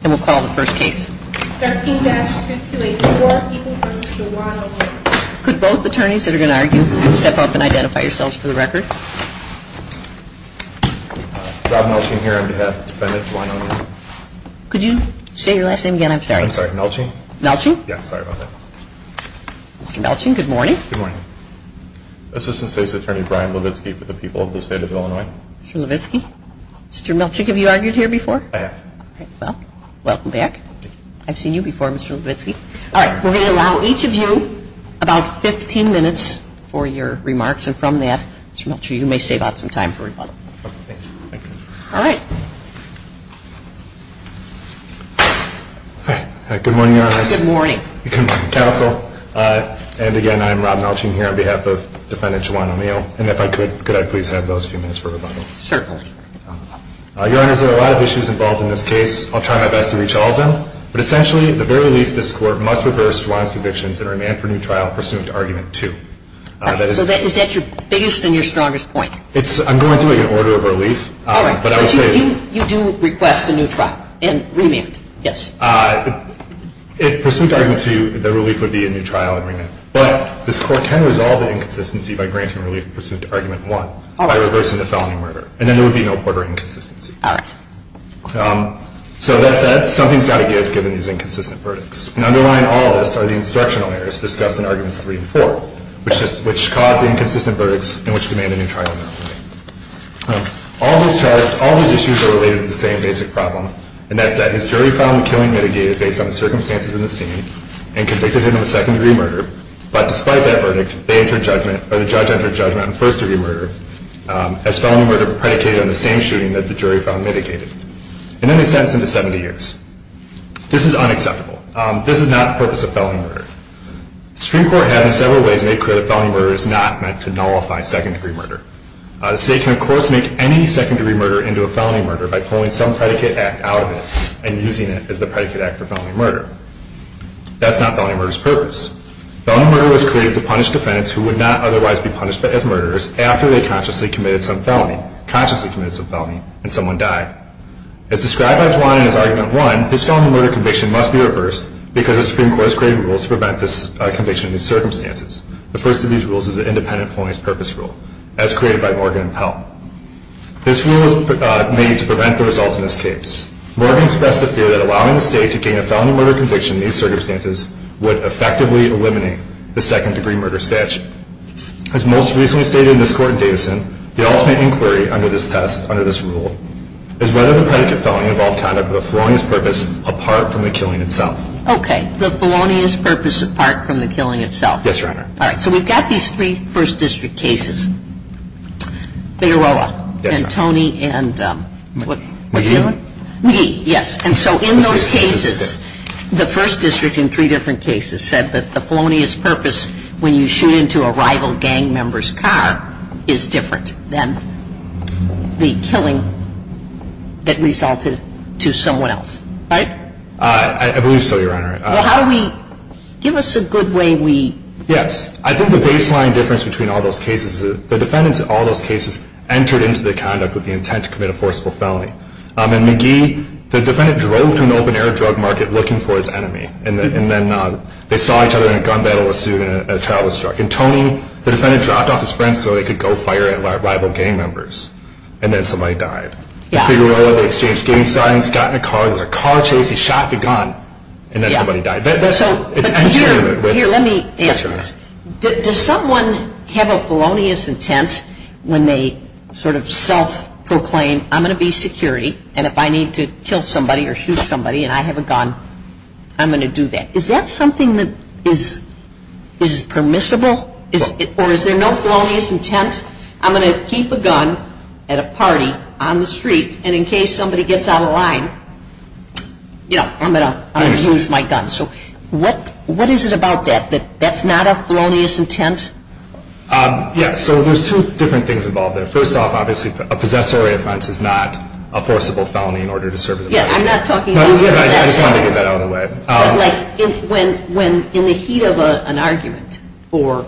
13-6284, Ethan Bernstein, Warren, O'Neal Assistant State's Attorney Brian Levitsky for the people of the state of Illinois Welcome back. I've seen you before Mr. Levitsky. All right, we're going to allow each of you about 15 minutes for your remarks and from that, I'm sure you may save up some time for rebuttal. Okay, thank you. All right. Good morning, Your Honor. Good morning. Counsel, and again, I'm Rob Melching here on behalf of Defendant Juwan O'Neal. And if I could, could I please have those few minutes for rebuttal? Certainly. Your Honor, there are a lot of issues involved in this case. I'll try my best to reach all of them. But essentially, at the very least, this Court must reverse Juwan's convictions and remand for new trial pursuant to Argument 2. So is that your biggest and your strongest point? I'm going through an order of relief. All right, but you do request a new trial and remand, yes? If pursuant to Argument 2, the relief would be a new trial and remand. But this Court can resolve the inconsistency by granting relief pursuant to Argument 1. All right. By reversing the felony murder. And then there would be no further inconsistency. All right. So that's something that's got to give, given these inconsistent verdicts. And underlying all of this are the instructional errors discussed in Arguments 3 and 4, which caused inconsistent verdicts and which demanded a new trial. All those issues are related to the same basic problem, and that is jury found the killing mitigated based on the circumstances in the scene and convicted him of a second-degree murder. But despite that verdict, the judge entered judgment on first-degree murder as felony murder predicated on the same shooting that the jury found mitigated. And then they sentenced him to 70 years. This is unacceptable. This is not the purpose of felony murder. Supreme Court has in several ways made clear that felony murder is not meant to nullify second-degree murder. The state can, of course, make any second-degree murder into a felony murder by pulling some predicate act out of it and using it as the predicate act for felony murder. That's not felony murder's purpose. Felony murder was created to punish defendants who would not otherwise be punished as murderers after they consciously committed some felony and someone died. As described by Juan in his Argument 1, this felony murder conviction must be reversed because the Supreme Court has created rules to prevent this conviction in these circumstances. The first of these rules is the independent felonies purpose rule, as created by Morgan and Pell. This rule was made to prevent the results in this case. Morgan expressed a fear that allowing the state to gain a felony murder conviction in these circumstances would effectively eliminate the second-degree murder statute. As most recently stated in this court in Davidson, the ultimate inquiry under this rule is whether the predicate felony involved conduct with a felonious purpose apart from the killing itself. Okay, the felonious purpose apart from the killing itself. Yes, Your Honor. All right, so we've got these three First District cases. Figueroa. Yes, Your Honor. And Tony and what? McGee. McGee, yes. And so in those cases, the First District in three different cases said that the felonious purpose when you shoot into a rival gang member's car is different than the killing that resulted to someone else. Right? I believe so, Your Honor. How do we, give us a good way we... Yes. I think the baseline difference between all those cases is the defendants in all those cases entered into the conduct with the intent to commit a forcible felony. And McGee, the defendant drove to an open-air drug market looking for his enemy, and then they saw each other in a gun battle with a student and a child was struck. And Tony, the defendant dropped off his friend so he could go fire at rival gang members, and then somebody died. Figueroa, they exchanged gang signs, got in a car, there was a car chase, he shot the gun, and then somebody died. Here, let me ask. Does someone have a felonious intent when they sort of self-proclaim, I'm going to be security, and if I need to kill somebody or shoot somebody and I have a gun, I'm going to do that. Is that something that is permissible? Or is there no felonious intent? I'm going to keep a gun at a party on the street, and in case somebody gets out of line, you know, I'm going to use my gun. So what is it about that, that that's not a felonious intent? Yes, so there's two different things involved there. First off, obviously, a possessory offense is not a forcible felony in order to serve the purpose. Yes, I'm not talking about that. I just wanted to get that out of the way. When in the heat of an argument or,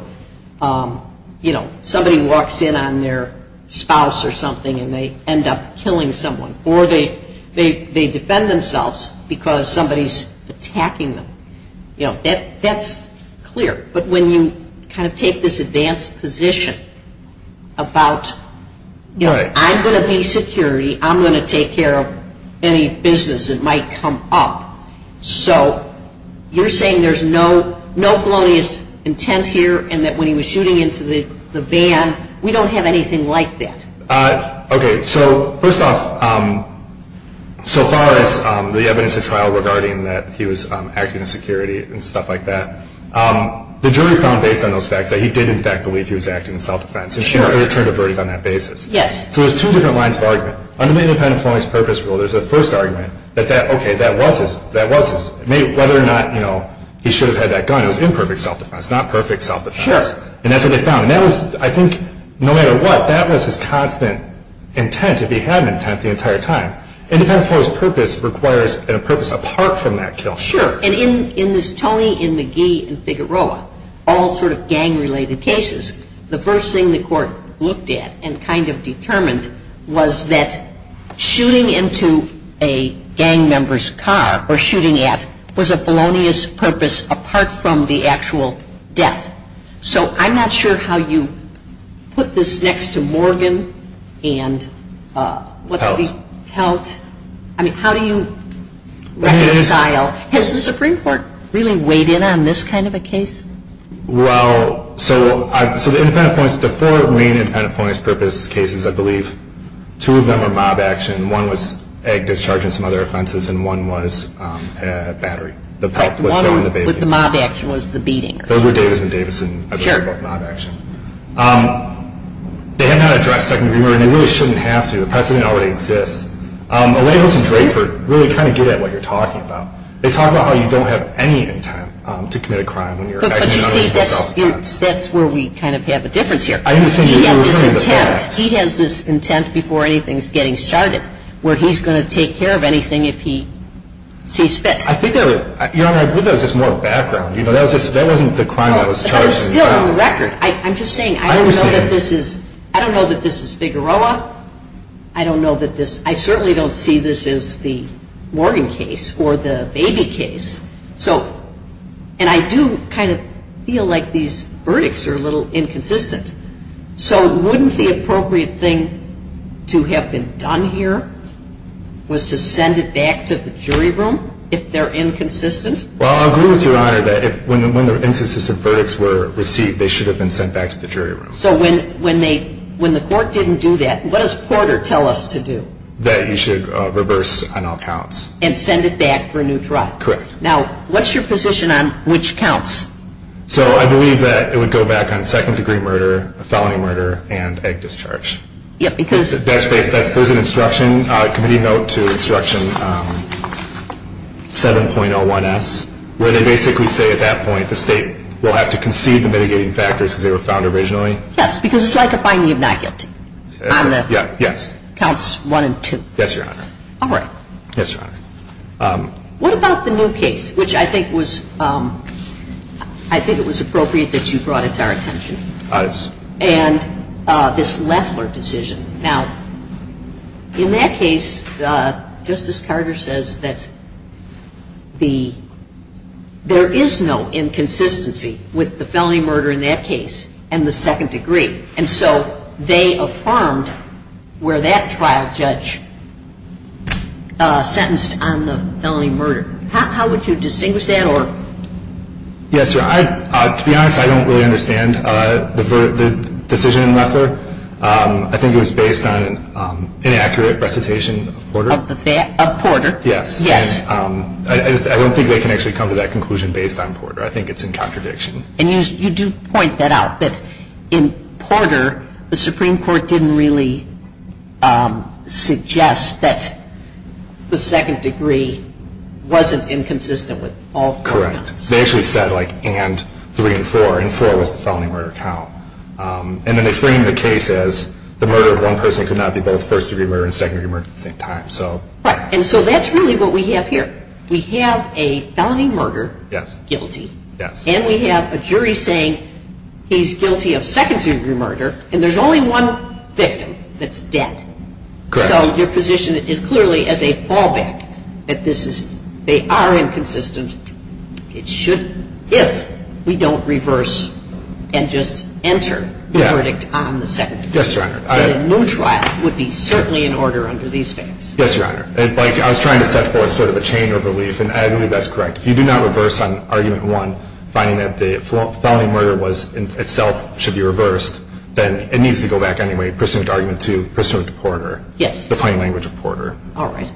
you know, somebody walks in on their spouse or something and they end up killing someone or they defend themselves because somebody's attacking them, you know, that's clear. But when you kind of take this advanced position about, you know, I'm going to be security, I'm going to take care of any business that might come up. So you're saying there's no felonious intent here and that when he was shooting into the van, we don't have anything like that? Okay, so first off, so far as the evidence of trial regarding that he was acting in security and stuff like that, the jury found based on those facts that he did, in fact, believe he was acting in self-defense and should have returned the verdict on that basis. Yes. So there's two different lines of argument. Under the Independent Felony Purpose Rule, there's a first argument that that, okay, that was his, that was his, whether or not, you know, he should have had that gun. It was imperfect self-defense, not perfect self-defense. Yes. And that's what they found. And that was, I think, no matter what, that was his constant intent. It would be his intent the entire time. Independent Felony Purpose requires a purpose apart from that kill. Sure. And in this Tony and McGee and Figueroa, all sort of gang-related cases, the first thing the court looked at and kind of determined was that shooting into a gang member's car or shooting at was a felonious purpose apart from the actual death. So I'm not sure how you put this next to Morgan and what he held. I mean, how do you reconcile? Has the Supreme Court really weighed in on this kind of a case? Well, so the four main Independent Felony Purpose cases, I believe, two of them are mob action. One was egg discharging and some other offenses, and one was battery. The mob action was the beating. Those were Davis and Davison. Sure. They had not addressed second degree murder. You really shouldn't have to. The precedent already exists. The labels in Draper really kind of get at what you're talking about. They talk about how you don't have any intent to commit a crime when you're actually not going to commit a crime. That's where we kind of have a difference here. He has this intent before anything is getting started where he's going to take care of anything if he sees fit. I think there was just more background. That wasn't the crime that was charged. It was still on the record. I'm just saying I don't know that this is Figueroa. I certainly don't see this as the Morgan case or the Baby case. And I do kind of feel like these verdicts are a little inconsistent. So wouldn't the appropriate thing to have been done here was to send it back to the jury room if they're inconsistent? Well, I agree with you, Your Honor, that when the inconsistent verdicts were received, they should have been sent back to the jury room. So when the court didn't do that, what does Porter tell us to do? That you should reverse on all counts. And send it back for a new trial. Correct. Now, what's your position on which counts? So I believe that it would go back on second degree murder, felony murder, and egg discharge. That's correct. There's an instruction, committee note to instruction 7.01S, where they basically say at that point the state will have to concede the mitigating factors because they were found originally. Yes, because it's like a finely knackered on the counts one and two. Yes, Your Honor. All right. Yes, Your Honor. What about the new case, which I think it was appropriate that you brought it back to the jury room? And this Leffler decision. Now, in that case, Justice Carter says that there is no inconsistency with the felony murder in that case and the second degree. And so they affirmed where that trial judge sentenced on the felony murder. How would you distinguish that? Yes, Your Honor. To be honest, I don't really understand the decision in Leffler. I think it was based on inaccurate recitation of Porter. Yes. I don't think they can actually come to that conclusion based on Porter. I think it's in contradiction. And you do point that out, that in Porter, the Supreme Court didn't really suggest that the second degree wasn't inconsistent with all three. Correct. They actually said, like, and three and four. And four was the felony murder trial. And then they framed the case as the murder of one person could not be both first degree murder and second degree murder at the same time. Right. And so that's really what we have here. We have a felony murder guilty. Yes. And we have a jury saying he's guilty of second degree murder, and there's only one victim that's dead. Correct. So your position is clearly as a fallback that this is, they are inconsistent. It should, if we don't reverse and just enter the verdict on the second degree. Yes, Your Honor. And a new trial would be certainly in order under these things. Yes, Your Honor. And, like, I was trying to set forth sort of a chain of relief, and I believe that's correct. If you do not reverse on argument one, find that the felony murder itself should be reversed, then it needs to go back anyway. Prisoner's argument two. Prisoner's reporter. Yes. Defining language reporter. All right.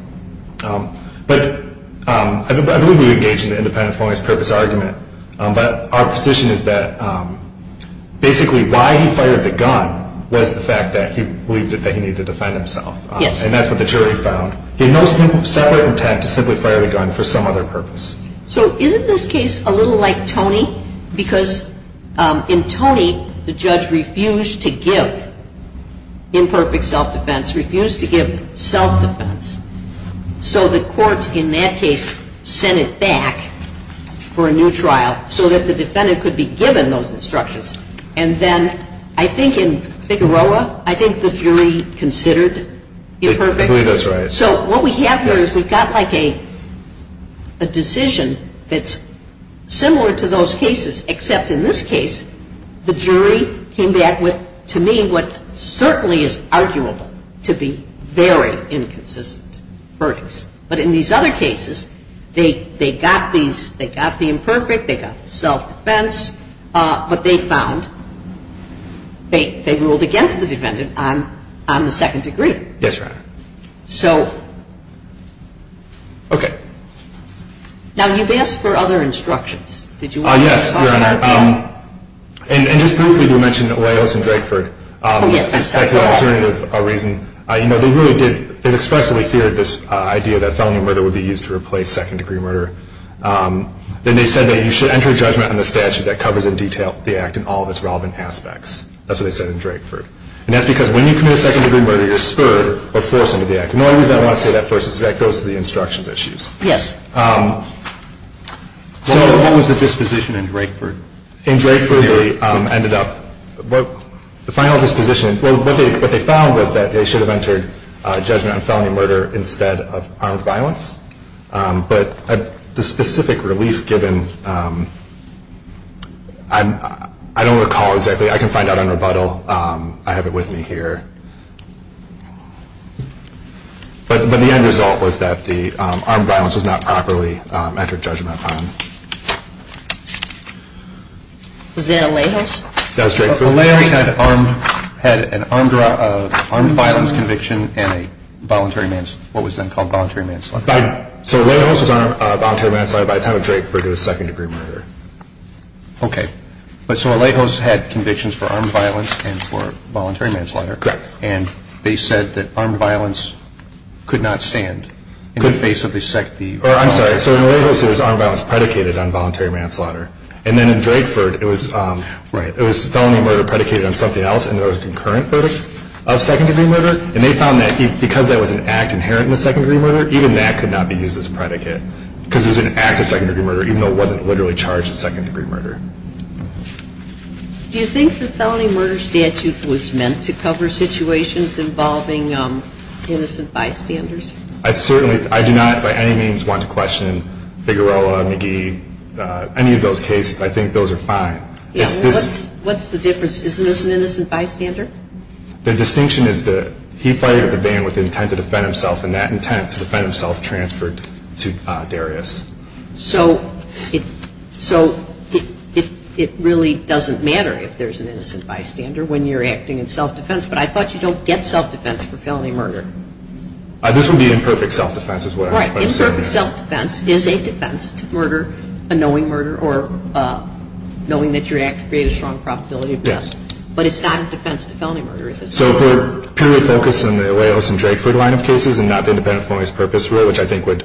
But I believe we engage in the independent felonious purpose argument. But our position is that basically why he fired the gun was the fact that he believed that he needed to defend himself. Yes. And that's what the jury found. He knows he didn't stop by for tax. He simply fired a gun for some other purpose. So isn't this case a little like Tony? Because in Tony, the judge refused to give imperfect self-defense, refused to give self-defense. So the court, in that case, sent it back for a new trial so that the defendant could be given those instructions. And then I think in Figueroa, I think the jury considered imperfect. That's right. So what we have here is we've got like a decision that's similar to those cases, except in this case, the jury came back with, to me, what certainly is arguable to be very inconsistent verdicts. But in these other cases, they got the imperfect, they got the self-defense, but they found they ruled against the defendant on the second degree. Yes, Your Honor. So. Okay. Now, you've asked for other instructions. Yes, Your Honor. And just briefly, you mentioned Olalos and Drakeford. Oh, yes. That's right. That's an alternative reason. You know, they really did, they expressly feared this idea that felony murder would be used to replace second degree murder. Then they said that you should enter a judgment on the statute that covers in detail the act in all of its relevant aspects. That's what they said in Drakeford. And that's because when you commit a second degree murder, you're spurred or forced into the act. The only reason I want to say that first is because that goes to the instructions issues. Yes. What was the disposition in Drakeford? In Drakeford, they ended up, the final disposition, what they found was that they should have entered a judgment on felony murder instead of armed violence. But the specific relief given, I don't recall exactly. I can find out on rebuttal. I have it with me here. But the end result was that the armed violence was not properly entered judgment on. Is there a layoff? A layoff had an armed violence conviction and what was then called voluntary manslaughter. So a layoff was armed voluntary manslaughter by the time Drakeford did a second degree murder. Okay. So a layoff had convictions for armed violence and for voluntary manslaughter. Correct. And they said that armed violence could not stand in the face of the second degree murder. I'm sorry. So a layoff was armed violence predicated on voluntary manslaughter. And then in Drakeford, it was felony murder predicated on something else and there was concurrent verdict of second degree murder. And they found that because there was an act inherent in the second degree murder, even that could not be used as a predicate because it was an act of second degree murder, even though it wasn't literally charged as second degree murder. Do you think the felony murder statute was meant to cover situations involving innocent bystanders? I do not by any means want to question Figueroa or any of those cases. I think those are fine. What's the difference? Isn't this an innocent bystander? The distinction is that he fired at the van with the intent to defend himself and that intent to defend himself transferred to Darius. So it really doesn't matter if there's an innocent bystander when you're acting in self-defense, but I thought you don't get self-defense for felony murder. This would be imperfect self-defense as well. Right. Imperfect self-defense is a defense to murder, a knowing murder, or knowing that you're acting to create a strong probability of death. But it's not a defense to felony murder. So if we're purely focused on the Arrayos and Drakeford line of cases and not the independent felonies purpose rule, which I think would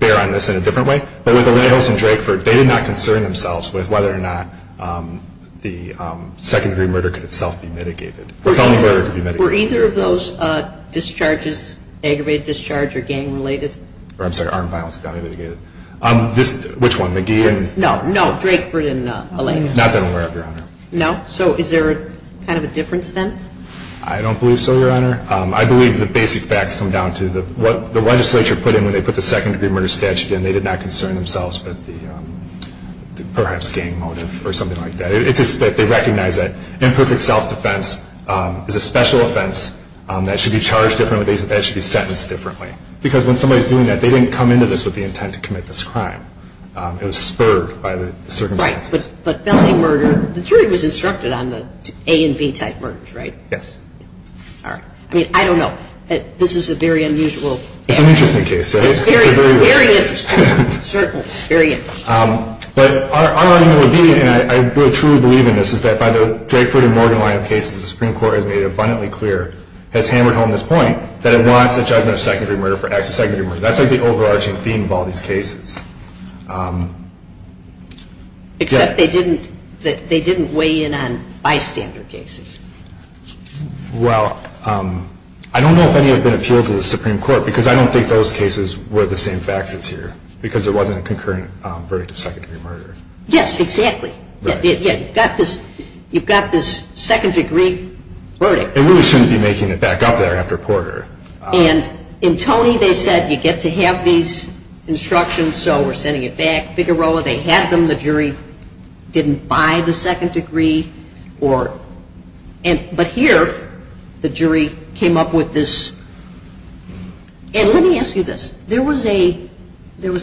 bear on this in a different way, but with Arrayos and Drakeford, they did not concern themselves with whether or not the second degree murder could itself be mitigated. Were either of those discharges aggravated discharge or gang-related? I'm sorry, armed violence. Which one, McGee and? No, no, Drakeford and Alameda. Not that I'm aware of, Your Honor. No? So is there kind of a different sense? I don't believe so, Your Honor. I believe the basic facts come down to what the legislature put in when they put the second degree murder statute in. They did not concern themselves with the perhaps gang motive or something like that. It's just that they recognize that imperfect self-defense is a special offense that should be charged differently, that should be sentenced differently. Because when somebody's doing that, they didn't come into this with the intent to commit this crime. It was spurred by the circumstances. Right, but felony murder, the jury was instructed on the A and B type murders, right? Yes. All right. I mean, I don't know. This is a very unusual case. It's an interesting case, Your Honor. Very, very interesting. Certainly, very interesting. But our argument would be, and I truly believe in this, is that by the Drakeford and Morgan line of cases, the Supreme Court has made abundantly clear, has hammered home this point, that it wants to judge a secondary murder for acts of secondary murder. That's the overarching theme of all these cases. Except they didn't weigh in on bystander cases. Well, I don't know if any have been appealed to the Supreme Court, because I don't think those cases were the same factors here, because there wasn't a concurrent verdict of secondary murder. Yes, exactly. You've got this second-degree murder. They really shouldn't be making it back up there after Porter. And in Tony, they said you get to have these instructions, so we're sending it back. Figueroa, they had them. The jury didn't buy the second degree. But here, the jury came up with this. And let me ask you this. There was a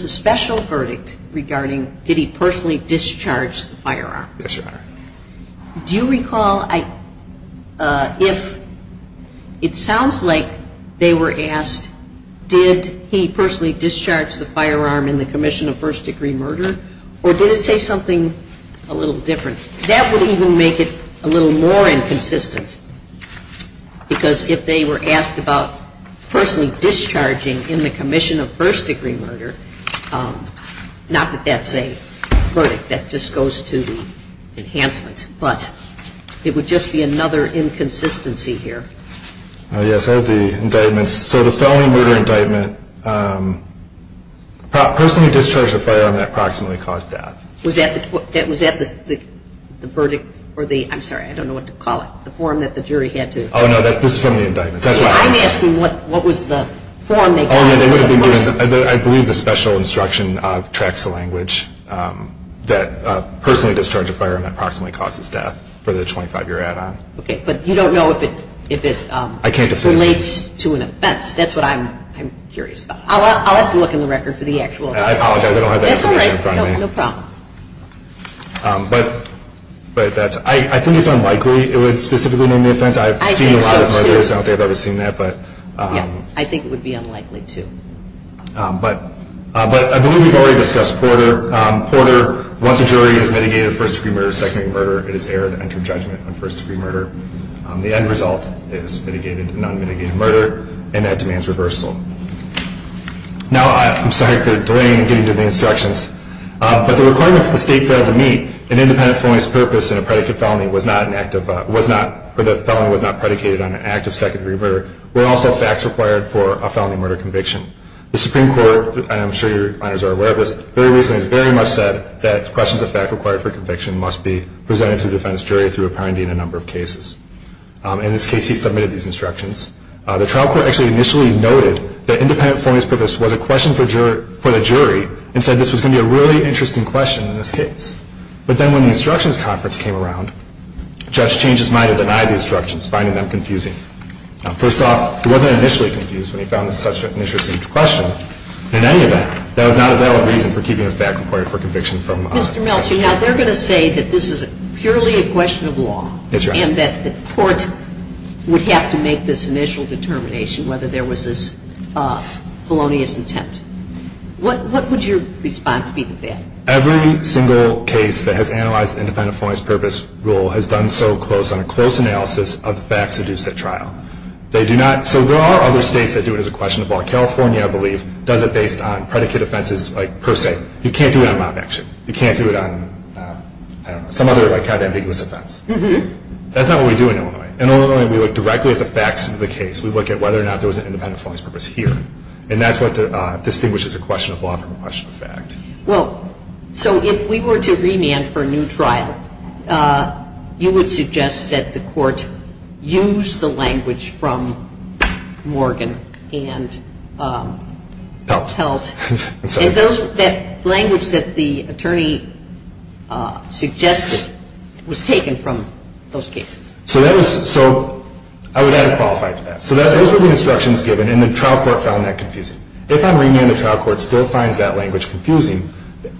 special verdict regarding did he personally discharge the firearm. Yes, Your Honor. Do you recall if it sounds like they were asked, did he personally discharge the firearm in the commission of first-degree murder, or did it say something a little different? That would even make it a little more inconsistent, because if they were asked about personally discharging in the commission of first-degree murder, not that that's a verdict that just goes to the enhancement, but it would just be another inconsistency here. Yes, that would be indictment. So the felony murder indictment, personally discharged the firearm that proximately caused death. Was that the verdict or the, I'm sorry, I don't know what to call it, the form that the jury had to. Oh, no, that's the felony indictment. I'm asking what was the form. I believe the special instruction tracks the language that personally discharged the firearm that proximately caused his death for the 25-year add-on. Okay, but you don't know if it relates to an offense. That's what I'm curious about. I'll have to look in the record for the actual. I apologize, I don't have that information in front of me. That's all right, no problem. But I think it's unlikely it would specifically name the offense. I've seen a lot of videos. I don't think I've ever seen that. Yes, I think it would be unlikely too. But I believe we've already discussed Porter. Porter, once a jury has mitigated first-degree murder, second-degree murder, it is error to enter judgment on first-degree murder. The end result is mitigated to non-mitigated murder, and that demands reversal. Now, I'm sorry for delaying in getting to the instructions, but the requirements for state felony to meet an independent felonious purpose and a predicate felony for the felony was not predicated on an act of second-degree murder were also facts required for a felony murder conviction. The Supreme Court, and I'm sure you guys are aware of this, very recently very much said that questions of fact required for conviction must be presented to the defendant's jury through a priority in a number of cases. In this case, he submitted these instructions. The trial court actually initially noted that independent felonious purpose was a question for the jury and said this was going to be a really interesting question in this case. But then when the instructions conference came around, the judge changed his mind and denied the instructions, finding them confusing. First of all, he wasn't initially confused when he found this such an interesting question. In any event, that was not a valid reason for keeping the fact required for conviction felonious. Mr. Melchi, now they're going to say that this is purely a question of law and that the court would have to make this initial determination whether there was this felonious intent. What would your response be to that? Every single case that has analyzed the independent felonious purpose rule has done so close on a close analysis of the facts produced at trial. So there are other states that do it as a question of law. California, I believe, does it based on predicate offenses per se. You can't do it on robbery actions. You can't do it on some other kind of ambiguous offense. That's not what we do in Illinois. In Illinois, we look directly at the facts of the case. We look at whether or not there was an independent felonious purpose here. And that's what distinguishes a question of law from a question of fact. Well, so if we were to remand for a new trial, you would suggest that the court use the language from Morgan and Peltz. Is that language that the attorney suggested was taken from those cases? So I would add a qualified to that. So those are the instructions given, and the trial court found that confusing. If that remanded trial court still finds that language confusing,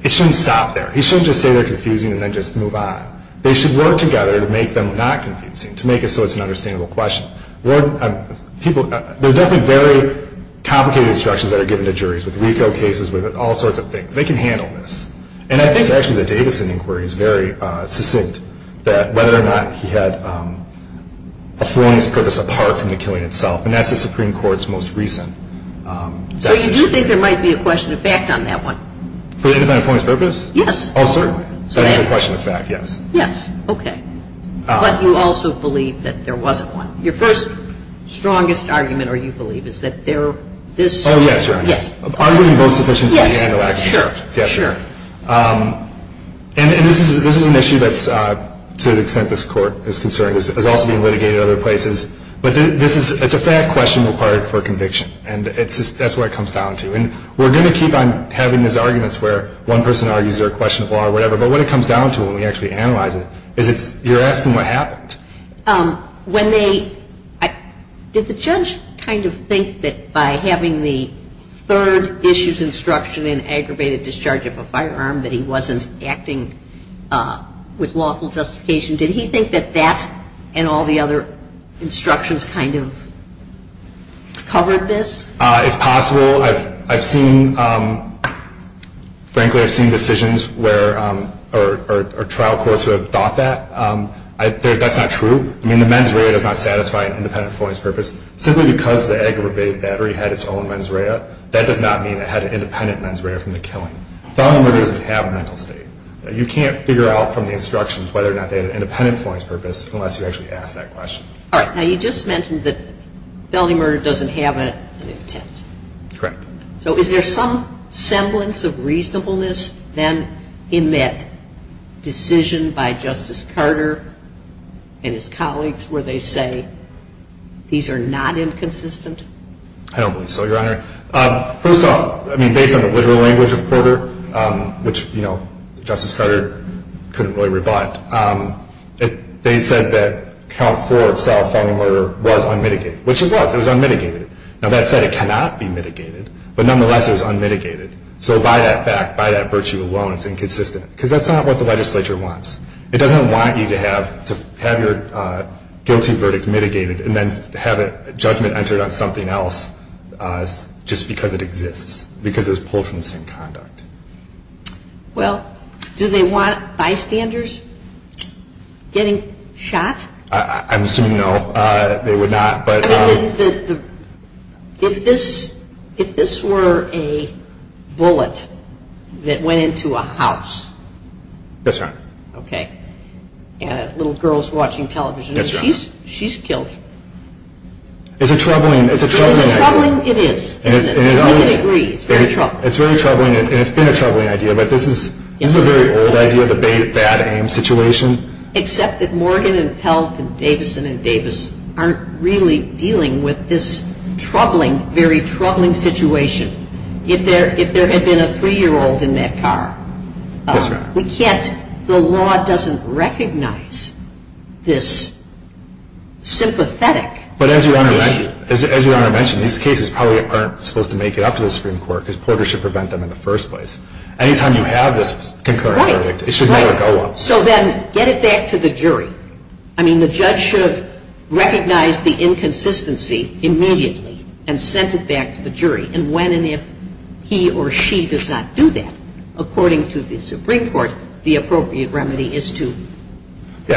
it shouldn't stop there. He shouldn't just say they're confusing and then just move on. They should work together to make them not confusing, to make it so it's an understandable question. There are definitely very complicated instructions that are given to juries, with refill cases, with all sorts of things. They can handle this. And I think, actually, the Davidson inquiry is very succinct, that whether or not he had a felonious purpose apart from the killing itself. And that's the Supreme Court's most recent definition. So you do think there might be a question of fact on that one? Felonious on a felonious purpose? Yes. Oh, certainly. So there's a question of fact, yes. Yes, okay. But you also believe that there wasn't one. Your first, strongest argument, or you believe, is that there is... Oh, yes, you're right. Yes. Arguing both sufficiently and... Yes, sure. Yes, sure. And this is an issue that's, to the extent this court is concerned, is also being litigated other places. But this is, it's a fact question required for conviction, and that's where it comes down to. And we're going to keep on having these arguments where one person argues they're questionable or whatever, but what it comes down to when we actually analyze it is you're asking what happened. When they, did the judge kind of think that by having the third issues instruction in aggravated discharge of a firearm that he wasn't acting with lawful justification? Did he think that that and all the other instructions kind of covered this? It's possible. Well, I've seen, frankly, I've seen decisions where, or trial courts have thought that. That's not true. I mean, the mens rea does not satisfy an independent forensic purpose. Simply because the aggravated battery had its own mens rea, that does not mean it had an independent mens rea from the killing. Felony murder doesn't have a mental state. You can't figure out from the instructions whether or not they have an independent forensic purpose unless you actually ask that question. All right. Now, you just mentioned that felony murder doesn't have an intent. Correct. So is there some semblance of reasonableness then in that decision by Justice Carter and his colleagues where they say these are not inconsistent? I don't think so, Your Honor. First off, I mean, based on the legal language of the court, which, you know, Justice Carter couldn't really rebut, they said that count four of felony murder was unmitigated, which it was. It was unmitigated. Now, that said, it cannot be mitigated, but nonetheless it was unmitigated. So by that fact, by that virtue alone, it's inconsistent, because that's not what the legislature wants. It doesn't want you to have your go-to verdict mitigated and then have a judgment entered on something else just because it exists, because it was pulled from the same conduct. Well, do they want bystanders getting shot? I'm assuming no. They would not. If this were a bullet that went into a house. That's right. Okay. Little girls watching television. That's right. She's killed. It's troubling. It's troubling. It is. I agree. It's very troubling. It's been a troubling idea, but this is a very old idea of a bad-aim situation. Except that Morgan and Peltz and Davison and Davis aren't really dealing with this troubling, very troubling situation. If there had been a three-year-old in that car. That's right. We can't. The law doesn't recognize this sympathetic. But as Your Honor mentioned, these cases probably aren't supposed to make it up to the Supreme Court, because Porter should prevent them in the first place. Any time you have this concurrent verdict, it should never go up. So then get it back to the jury. I mean, the judge should recognize the inconsistency immediately and send it back to the jury. And when and if he or she does not do that, according to the Supreme Court, the appropriate remedy is to... And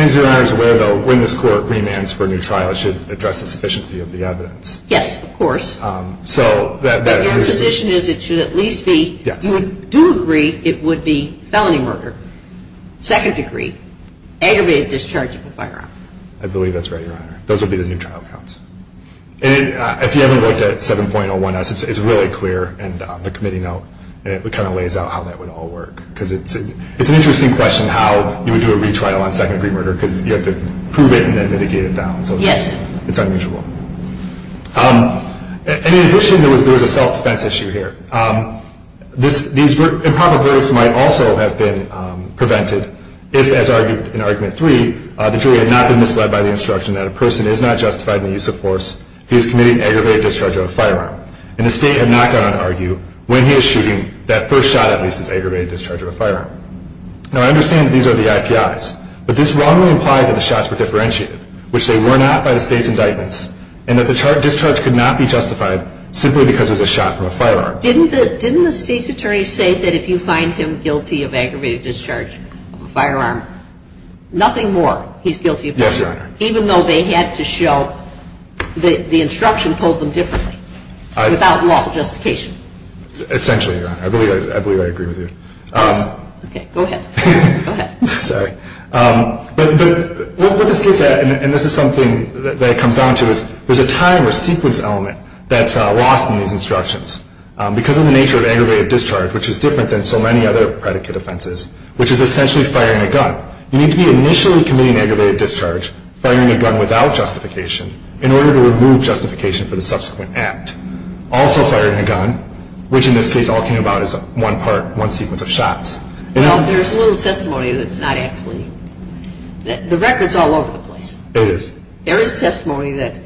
as Your Honor is aware, the witness court remands for new trials should address the sufficiency of the evidence. Yes, of course. The proposition is it should at least be, to a degree, it would be felony murder. Second degree. Aggravated discharge of a firearm. I believe that's right, Your Honor. Those would be the new trial counts. And if you haven't looked at 7.01s, it's really clear in the committee note. It kind of lays out how that would all work. Because it's an interesting question how you would do a retrial on second-degree murder, because you have to prove it and then mitigate it down. Yes. It's unreachable. In addition, there is a self-defense issue here. These improper verdicts might also have been prevented if, as argued in Argument 3, the jury had not been misled by the instruction that a person is not justified in the use of force if he is committing an aggravated discharge of a firearm. And the state had not gone on to argue when he was shooting that first shot, at least, as aggravated discharge of a firearm. Now, I understand these are the IPIs, but this wrongly implies that the shots were differentiated, which they were not, by the state's indictments, and that the discharge could not be justified simply because it was a shot from a firearm. Didn't the state's attorney say that if you find him guilty of aggravated discharge of a firearm, nothing more he's guilty of doing? Yes, Your Honor. Even though they had to show the instruction told them differently without lawful justification? Essentially, Your Honor. I believe I agree with you. Okay. Go ahead. Sorry. But what the state said, and this is something that it comes down to, is there's a time or sequence element that's lost in these instructions. Because of the nature of aggravated discharge, which is different than so many other predicate offenses, which is essentially firing a gun, you need to be initially committing aggravated discharge, firing a gun without justification, in order to remove justification for the subsequent act. Also firing a gun, which in this case all came about as one part, one sequence of shots. Well, there's a little testimony that's not actually, the record's all over the place. It is. There is testimony that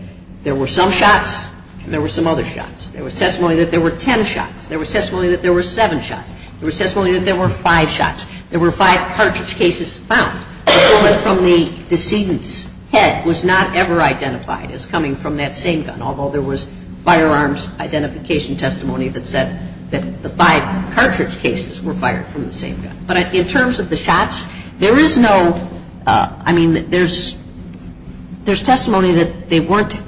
there were some shots and there were some other shots. There was testimony that there were 10 shots. There was testimony that there were 7 shots. There was testimony that there were 5 shots. There were 5 cartridge cases found. The bullet from the decedent's head was not ever identified as coming from that same gun, although there was firearms identification testimony that said that the 5 cartridge cases were fired from the same gun. But in terms of the shots, there is no, I mean, there's testimony that they weren't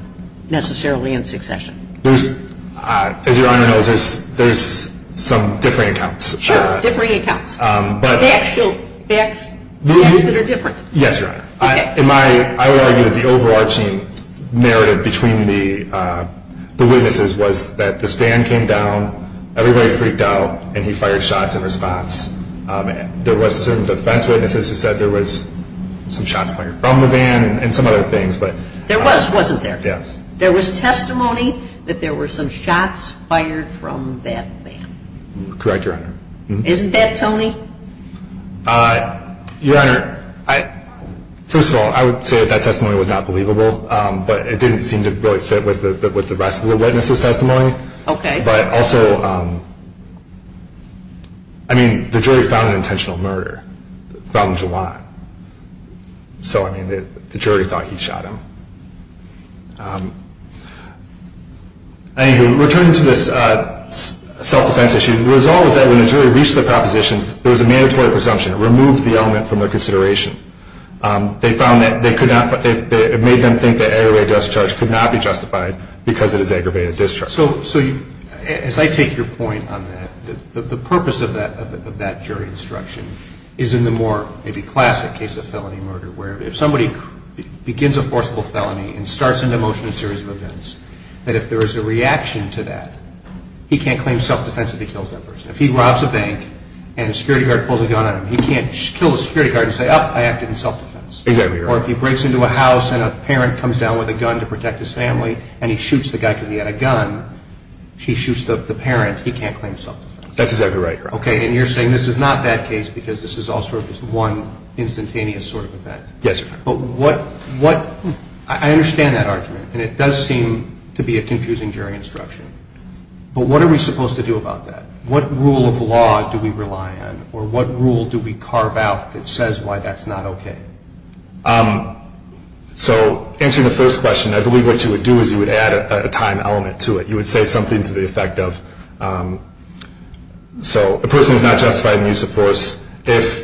necessarily in succession. As Your Honor knows, there's some differing accounts. Sure. Differing accounts. But. The actual facts are different. Yes, Your Honor. Okay. In my, I would argue the overarching narrative between the witnesses was that the stand came down, everybody freaked out, and he fired shots in response. There was some defense witnesses who said there was some shots fired from the van and some other things. There was, wasn't there? Yes. There was testimony that there were some shots fired from that van. Correct, Your Honor. Isn't that telling? Your Honor, first of all, I would say that that testimony was not believable, but it didn't seem to really fit with the rest of the witnesses' testimony. Okay. But also, I mean, the jury found an intentional murder. It was found in July. So, I mean, the jury thought he shot him. Anyway, returning to this self-defense issue, the result was that when the jury reached the proposition, there was a mandatory presumption. It removed the element from their consideration. They found that they could not, it made them think that aggravated discharge could not be justified because of the aggravated discharge. So, as I take your point on that, the purpose of that jury instruction is in the more maybe classic case of felony murder where if somebody begins a forcible felony and starts an emotional series of events, that if there is a reaction to that, he can't claim self-defense if he kills others. If he robs a bank and a security guard pulls a gun on him, he can't kill a security guard and say, ah, I acted in self-defense. Exactly, Your Honor. Or if he breaks into a house and a parent comes down with a gun to protect his family and he shoots the guy because he had a gun, he shoots the parent, he can't claim self-defense. That's exactly right, Your Honor. Okay, and you're saying this is not that case because this is also just one instantaneous sort of event. Yes, Your Honor. But what, I understand that argument and it does seem to be a confusing jury instruction, but what are we supposed to do about that? What rule of law do we rely on or what rule do we carve out that says why that's not okay? So answering the first question, I believe what you would do is you would add a time element to it. You would say something to the effect of, so a person is not justified in the use of force if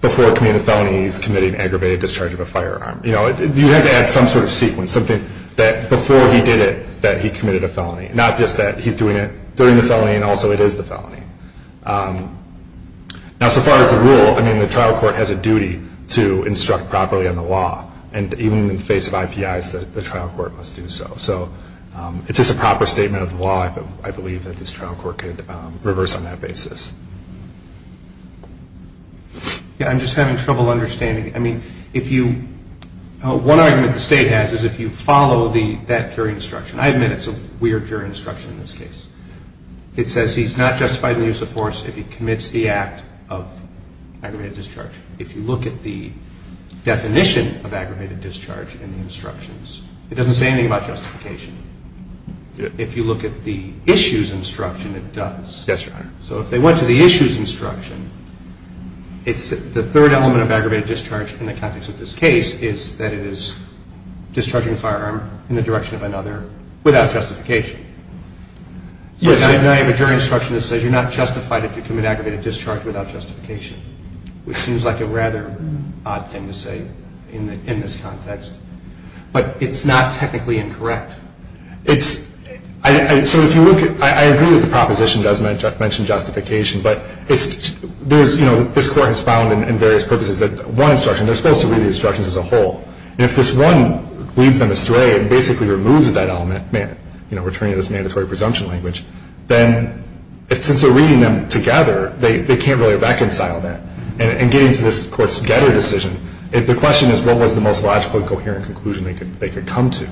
before committing a felony he's committed an aggravated discharge of a firearm. You have to add some sort of sequence, something that before he did it that he committed a felony, not just that he's doing it during the felony and also it is the felony. Now, so far as the rule, I mean, the trial court has a duty to instruct properly on the law and even in the face of IPIs, the trial court must do so. So it's just a proper statement of the law, I believe, that this trial court could reverse on that basis. Yeah, I'm just having trouble understanding. I mean, if you, one argument the state has is if you follow that jury instruction. I admit it's a weird jury instruction in this case. It says he's not justified in the use of force if he commits the act of aggravated discharge. If you look at the definition of aggravated discharge in the instructions, it doesn't say anything about justification. If you look at the issues instruction, it does. Yes, Your Honor. So if they went to the issues instruction, it's the third element of aggravated discharge in the context of this case is that it is discharging a firearm in the direction of another without justification. Yes. And the jury instruction says you're not justified if you commit aggravated discharge without justification, which seems like a rather odd thing to say in this context. But it's not technically incorrect. It's, so if you look at, I agree with the proposition, it does mention justification, but it's, there's, you know, this court has found in various purposes that one instruction, they're supposed to read the instructions as a whole. And if this one leads them astray and basically removes that element, you know, returning to this mandatory presumption language, then since they're reading them together, they can't really reconcile that. And getting to this court's getter decision, the question is what was the most logical and coherent conclusion they could come to.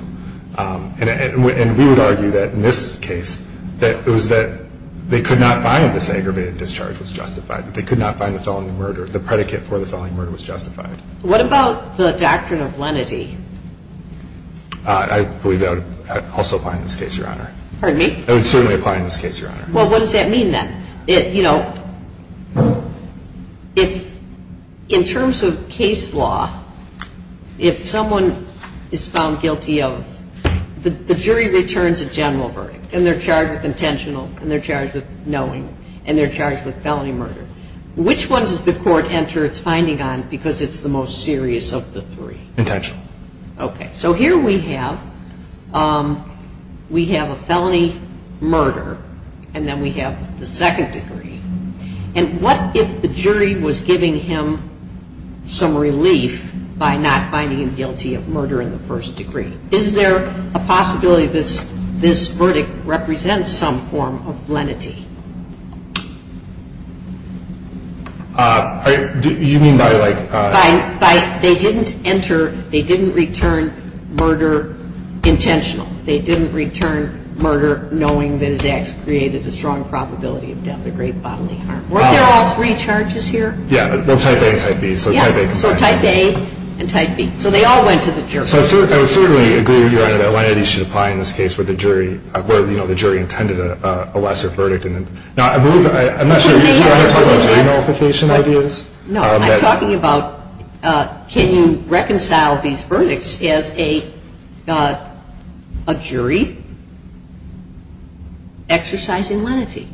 And we would argue that in this case that it was that they could not find this aggravated discharge was justified. They could not find the felony murder. The predicate for the felony murder was justified. What about the doctrine of lenity? I believe that would also apply in this case, Your Honor. Pardon me? It would certainly apply in this case, Your Honor. Well, what does that mean then? You know, in terms of case law, if someone is found guilty of, the jury returns a general verdict and they're charged with intentional and they're charged with knowing and they're charged with felony murder. Which one does the court enter its finding on because it's the most serious of the three? Intentional. Okay. So here we have a felony murder and then we have the second degree. And what if the jury was giving him some relief by not finding him guilty of murder in the first degree? Is there a possibility that this verdict represents some form of lenity? You mean by like... By they didn't enter, they didn't return murder intentional. They didn't return murder knowing that it actually created the strong probability of death, the great bodily harm. Weren't there all three charges here? Yeah, the type A and type B. Yeah, so type A and type B. So they all went to the jury. So I certainly agree with you that lenity should apply in this case where the jury intended a lesser verdict. Now, I'm not sure if you want to talk about jury multiplication ideas. No, I'm talking about can you reconcile these verdicts as a jury exercising lenity?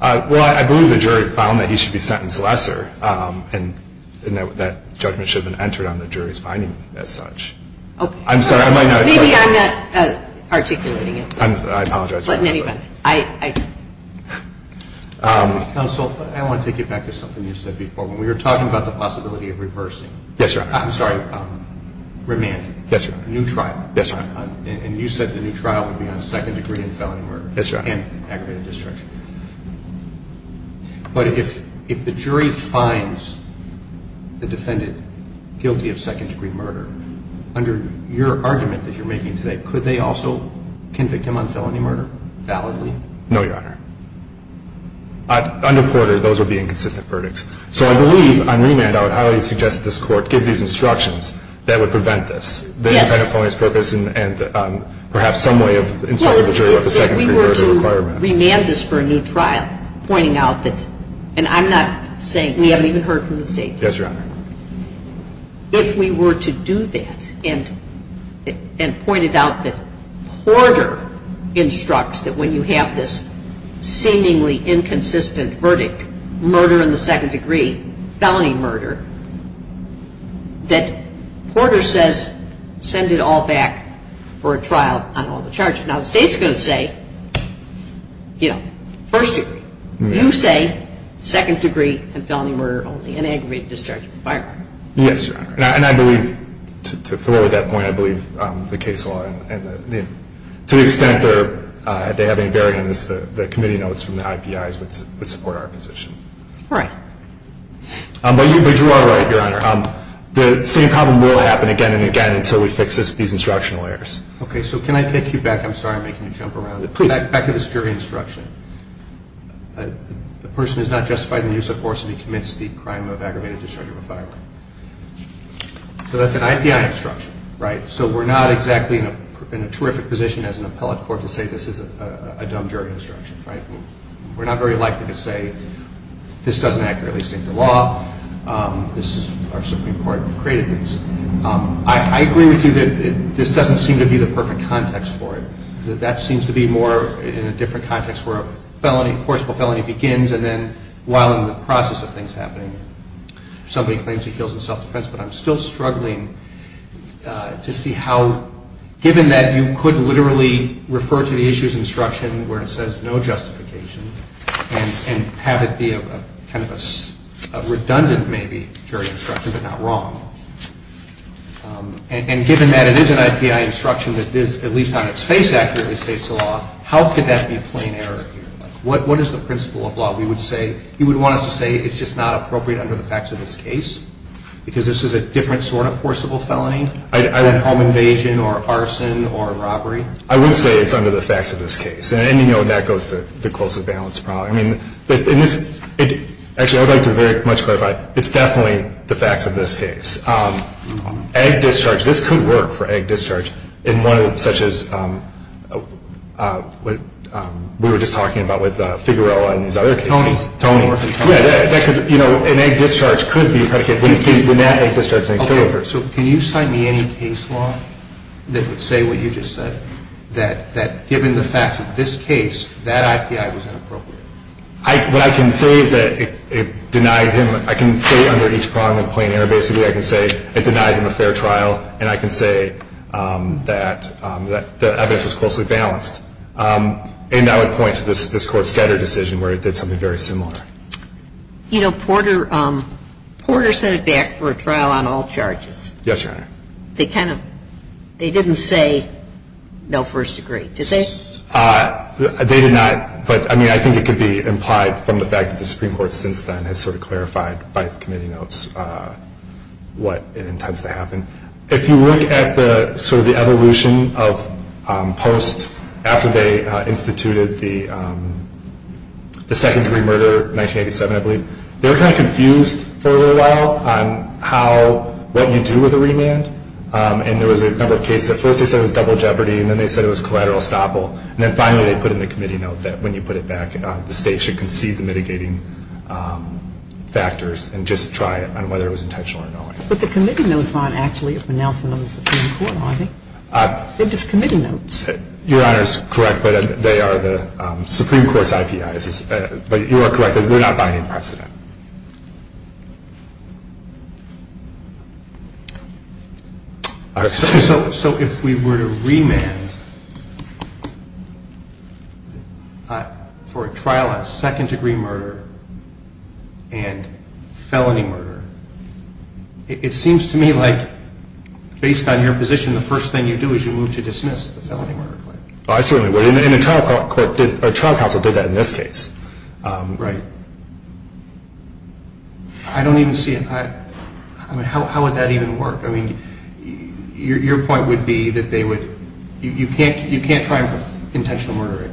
Well, I believe the jury found that he should be sentenced lesser and that judgment should have been entered on the jury's finding as such. I'm sorry. Maybe I'm not articulating it. I apologize. Counsel, I want to take you back to something you said before when we were talking about the possibility of reversing. Yes, sir. I'm sorry. Remand. Yes, sir. New trial. Yes, sir. And you said the new trial would be on second degree and felony murder. Yes, sir. And active district. But if the jury finds the defendant guilty of second degree murder, under your argument that you're making today, could they also convict him on felony murder validly? No, Your Honor. Under quarter, those would be inconsistent verdicts. So I believe on remand I would highly suggest that this court give these instructions that would prevent this. Yes. This kind of felonious purpose and perhaps some way of insuring the jury of the second degree murder requirement. I'm going to remand this for a new trial, pointing out that, and I'm not saying, we haven't even heard from the state yet. Yes, Your Honor. If we were to do that and point it out that quarter instructs that when you have this seemingly inconsistent verdict, murder in the second degree, felony murder, that quarter says send it all back for a trial on all the charges. Now, the state's going to say, you know, first degree. You say second degree and felony murder only and aggravated discharge is violent. Yes, Your Honor. And I believe, to forward that point, I believe the case law, to the extent that they have any bearing on this, the committee notes from the IPIs would support our position. Right. But you are right, Your Honor. The same problem will happen again and again until we fix these instructional errors. Okay. So can I take you back? I'm sorry I'm making you jump around. Back to this jury instruction. The person is not justified in the use of force and he commits the crime of aggravated discharge or violence. So that's an IPI instruction, right? So we're not exactly in a terrific position as an appellate court to say this is a dumb jury instruction, right? We're not very likely to say this doesn't accurately state the law. This is our Supreme Court created this. I agree with you that this doesn't seem to be the perfect context for it. That that seems to be more in a different context where a felony, a forcible felony begins and then while in the process of things happening somebody claims he kills in self-defense. But I'm still struggling to see how, given that you could literally refer to the issue's instruction where it says no justification and have it be a kind of a redundant maybe jury instruction but not wrong. And given that it is an IPI instruction that at least on its face accurately states the law, how could that be a plain error here? What is the principle of law we would say? You would want us to say it's just not appropriate under the facts of this case because this is a different sort of forcible felony? Either a home invasion or arson or a robbery? I would say it's under the facts of this case. And, you know, that goes for the closest balance problem. Actually, I would like to very much clarify, it's definitely the facts of this case. Ag discharge, this could work for ag discharge in one such as what we were just talking about with Figueroa and these other cases. Tony's. Tony's. You know, an ag discharge could be a kind of case. Okay, so can you cite me any case law that would say what you just said? That given the facts of this case, that IPI was inappropriate. What I can say is that it denied him, I can say under each problem of plain error basically I can say it denied him a fair trial and I can say that I guess it's closely balanced. And I would point to this court's Scatter decision where it did something very similar. You know, Porter sent it back for a trial on all charges. Yes, Your Honor. They kind of, they didn't say no first degree. Did they? They did not. But, I mean, I think it could be implied from the fact that the Supreme Court since then has sort of clarified by committee notes what it intends to happen. If you look at the sort of the evolution of post after they instituted the second degree murder 1987, I believe, they were kind of confused for a little while on how, what you do with a remand and there was a couple of cases that first they said it was double jeopardy and then they said it was collateral estoppel and then finally they put in the committee note that when you put it back the state should concede the mitigating factors and just try it on whether it was intentional or not. But the committee notes aren't actually announced in the Supreme Court, are they? They're just committee notes. Your Honor is correct, but they are the Supreme Court's IPIs. But you are correct that we're not buying in precedent. So if we were to remand for a trial of second degree murder and felony murder, it seems to me like based on your position the first thing you do is you move to dismiss the felony murder claim. I certainly would and a trial counsel did that in this case. Right. I don't even see if I, I mean how would that even work? I mean your point would be that they would, you can't try intentional murder.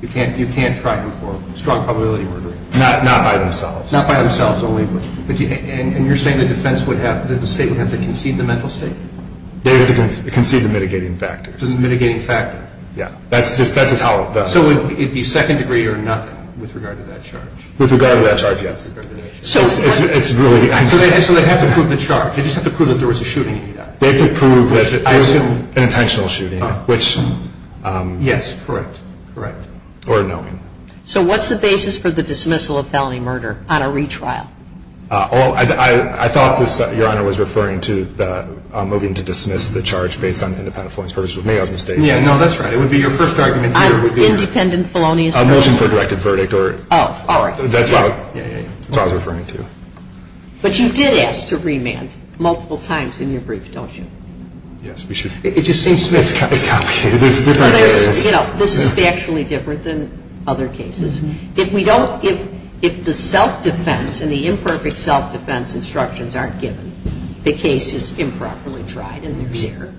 You can't try for strong probability murder. Not by themselves. Not by themselves only. And you're saying the defense would have, that the state would have to concede the mental state? They would have to concede the mitigating factors. The mitigating factors. Yeah. That's just how it does. So it would be second degree or nothing with regard to that charge? With regard to that charge, yes. So it's really. So they'd have to prove the charge. They'd just have to prove that there was a shooting. They could prove that there was an intentional shooting, which. Yes, correct. Correct. Or no. So what's the basis for the dismissal of felony murder on a retrial? I thought your Honor was referring to moving to dismiss the charge based on independent felonious murder. Maybe I was mistaken. Yeah, no, that's right. It would be your first argument here would be. Independent felonious murder. A motion for a directed verdict or. Oh, all right. That's what I was referring to. But you did ask to remand multiple times in your brief, don't you? Yes, we should. It just seems complicated. You know, this is factually different than other cases. If we don't. If the self-defense and the imperfect self-defense instructions aren't given, the case is improperly tried and there's error.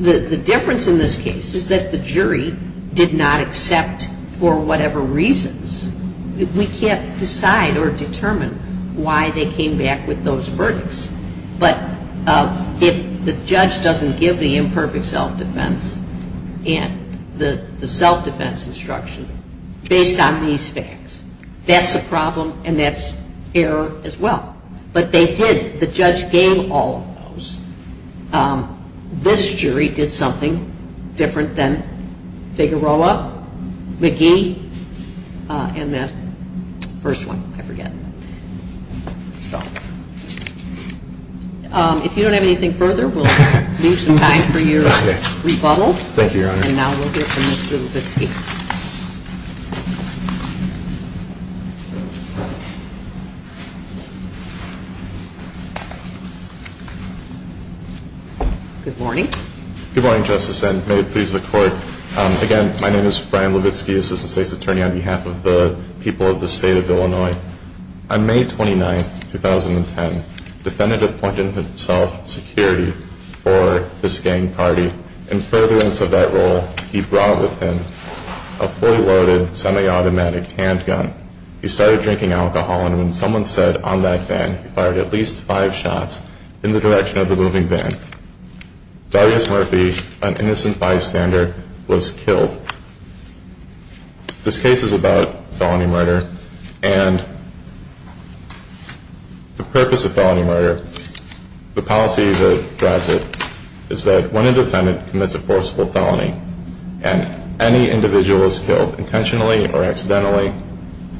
The difference in this case is that the jury did not accept for whatever reasons. We can't decide or determine why they came back with those verdicts. But if the judge doesn't give the imperfect self-defense and the self-defense instruction based on these facts, that's a problem and that's error as well. But they did. The judge gave all of those. This jury did something different than Figueroa, McGee, and the first one. I forget. If you don't have anything further, we'll use the time for your rebuttal. Thank you, Your Honor. And now we'll hear from Mr. Levitsky. Good morning. Good morning, Justice, and may it please the Court. Again, my name is Brian Levitsky, Assistant State's Attorney on behalf of the people of the state of Illinois. On May 29, 2010, the defendant appointed himself security for this gang party. In furtherance of that role, he brought with him a four-loaded semi-automatic handgun. He started drinking alcohol and when someone said, on that band, he fired at least five shots in the direction of the moving band. Darius Murphy, an innocent bystander, was killed. This case is about felony murder, and the purpose of felony murder, the policy that drives it, is that when a defendant commits a forcible felony and any individual is killed intentionally or accidentally,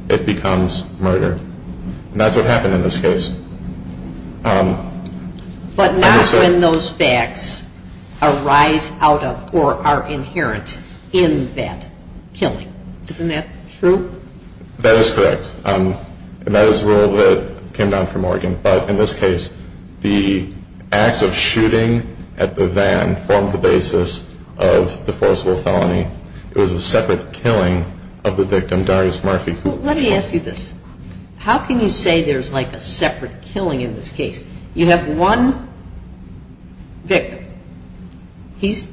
it becomes murder. And that's what happened in this case. But not when those facts arise out of or are inherent in that killing. Isn't that true? That is correct. And that is a rule that came down from Oregon. But in this case, the acts of shooting at the van formed the basis of the forcible felony. It was a separate killing of the victim, Darius Murphy. Let me ask you this. How can you say there's like a separate killing in this case? You have one victim. He's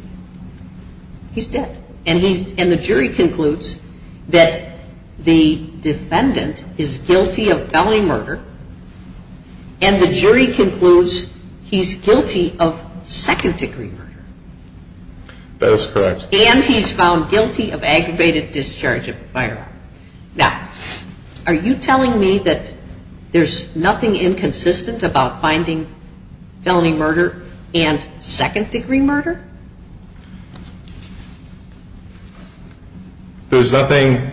dead. And the jury concludes that the defendant is guilty of felony murder, and the jury concludes he's guilty of second-degree murder. That is correct. And he's found guilty of aggravated discharge of firearms. Now, are you telling me that there's nothing inconsistent about finding felony murder and second-degree murder? There's nothing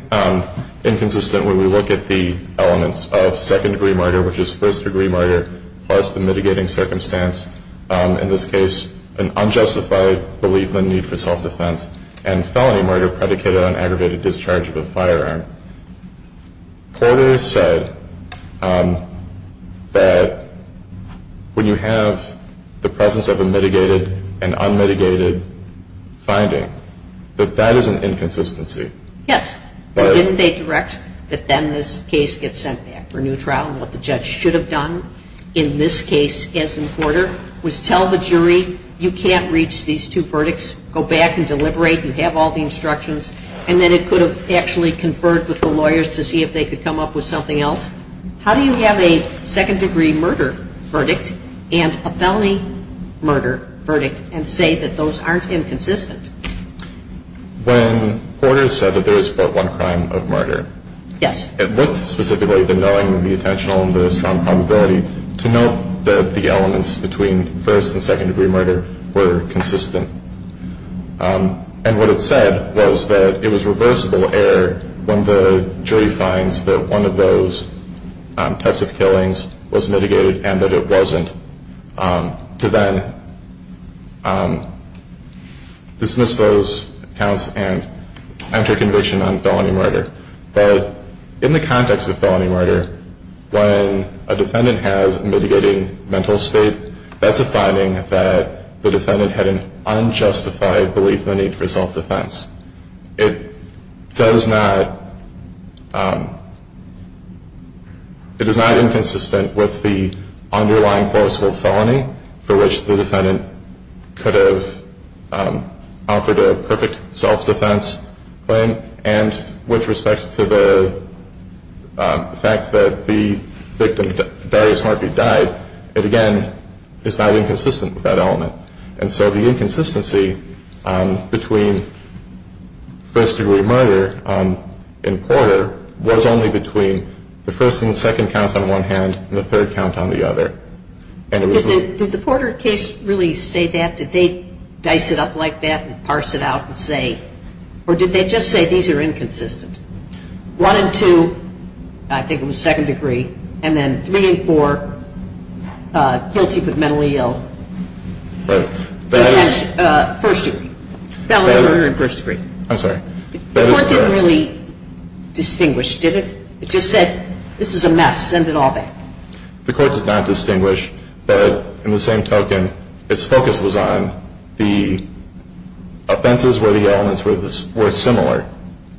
inconsistent when we look at the elements of second-degree murder, which is first-degree murder, plus the mitigating circumstance. In this case, an unjustified belief in the need for self-defense, and felony murder predicated on aggravated discharge of a firearm. Porter said that when you have the presence of a mitigated and unmitigated finding, that that is an inconsistency. Yes. Didn't they direct that then this case gets sent back for a new trial? What the judge should have done in this case, as in Porter, was tell the jury, you can't reach these two verdicts. Go back and deliberate. You have all the instructions. And then it could have actually conferred with the lawyers to see if they could come up with something else. How do you have a second-degree murder verdict and a felony murder verdict and say that those aren't inconsistent? Yes. It wasn't specifically denying the intentional and the strong probability to note that the elements between first- and second-degree murder were consistent. And what it said was that it was reversible error when the jury finds that one of those types of killings was mitigated and that it wasn't, to then dismiss those accounts and enter conviction on felony murder. But in the context of felony murder, when a defendant has mitigating mental state, that's a finding that the defendant had an unjustified belief in the need for self-defense. It is not inconsistent with the underlying personal felony for which the defendant could have offered a perfect self-defense claim. And with respect to the fact that the victim's various markers died, it, again, is not inconsistent with that element. And so the inconsistency between first-degree murder and Porter was only between the first and second counts on one hand and the third count on the other. Did the Porter case really say that? Did they dice it up like that and parse it out and say, or did they just say these are inconsistent? One and two, I think, in the second degree, and then three and four, guilty but mentally ill. First degree. I'm sorry. The court didn't really distinguish, did it? It just said, this is a mess, send it all back. The court did not distinguish, but in the same token, its focus was on the offenses where the elements were similar,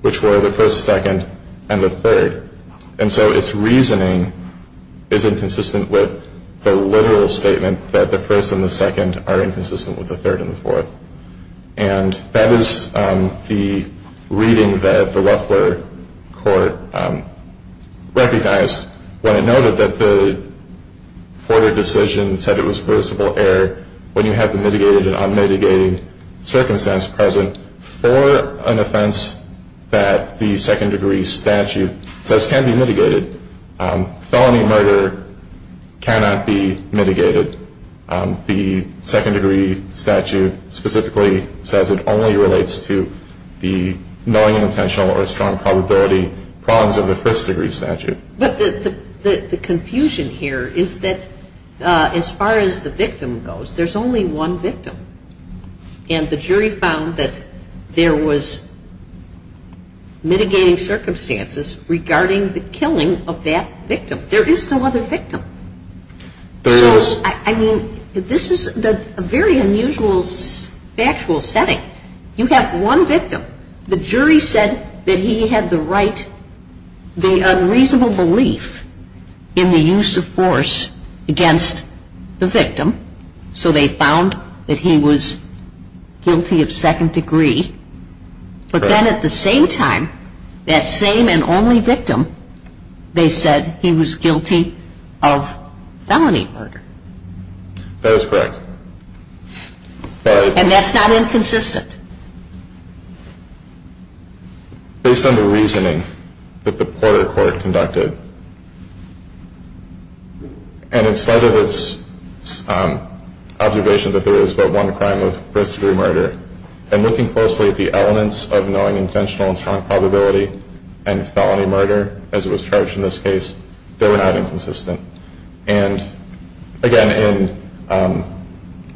which were the first, second, and the third. And so its reasoning is inconsistent with the literal statement that the first and the second are inconsistent with the third and the fourth. And that is the reading that the Loeffler court recognized when it noted that the Porter decision said it was possible when you have the mitigated and unmitigated circumstance present for an offense that the second degree statute says can be mitigated. Felony murder cannot be mitigated. The second degree statute specifically says it only relates to the knowing intentional or strong probability problems of the first degree statute. But the confusion here is that as far as the victim goes, there's only one victim. And the jury found that there was mitigating circumstances regarding the killing of that victim. There is no other victim. So, I mean, this is a very unusual factual setting. You have one victim. The jury said that he had the right, the unreasonable belief in the use of force against the victim. So they found that he was guilty of second degree. But then at the same time, that same and only victim, they said he was guilty of felony murder. That is correct. And that's not inconsistent. Based on the reasoning that the Porter court conducted. And instead of its observation that there is but one crime with first degree murder, and looking closely at the elements of knowing intentional and strong probability and felony murder as it was charged in this case, they were not inconsistent. And, again, in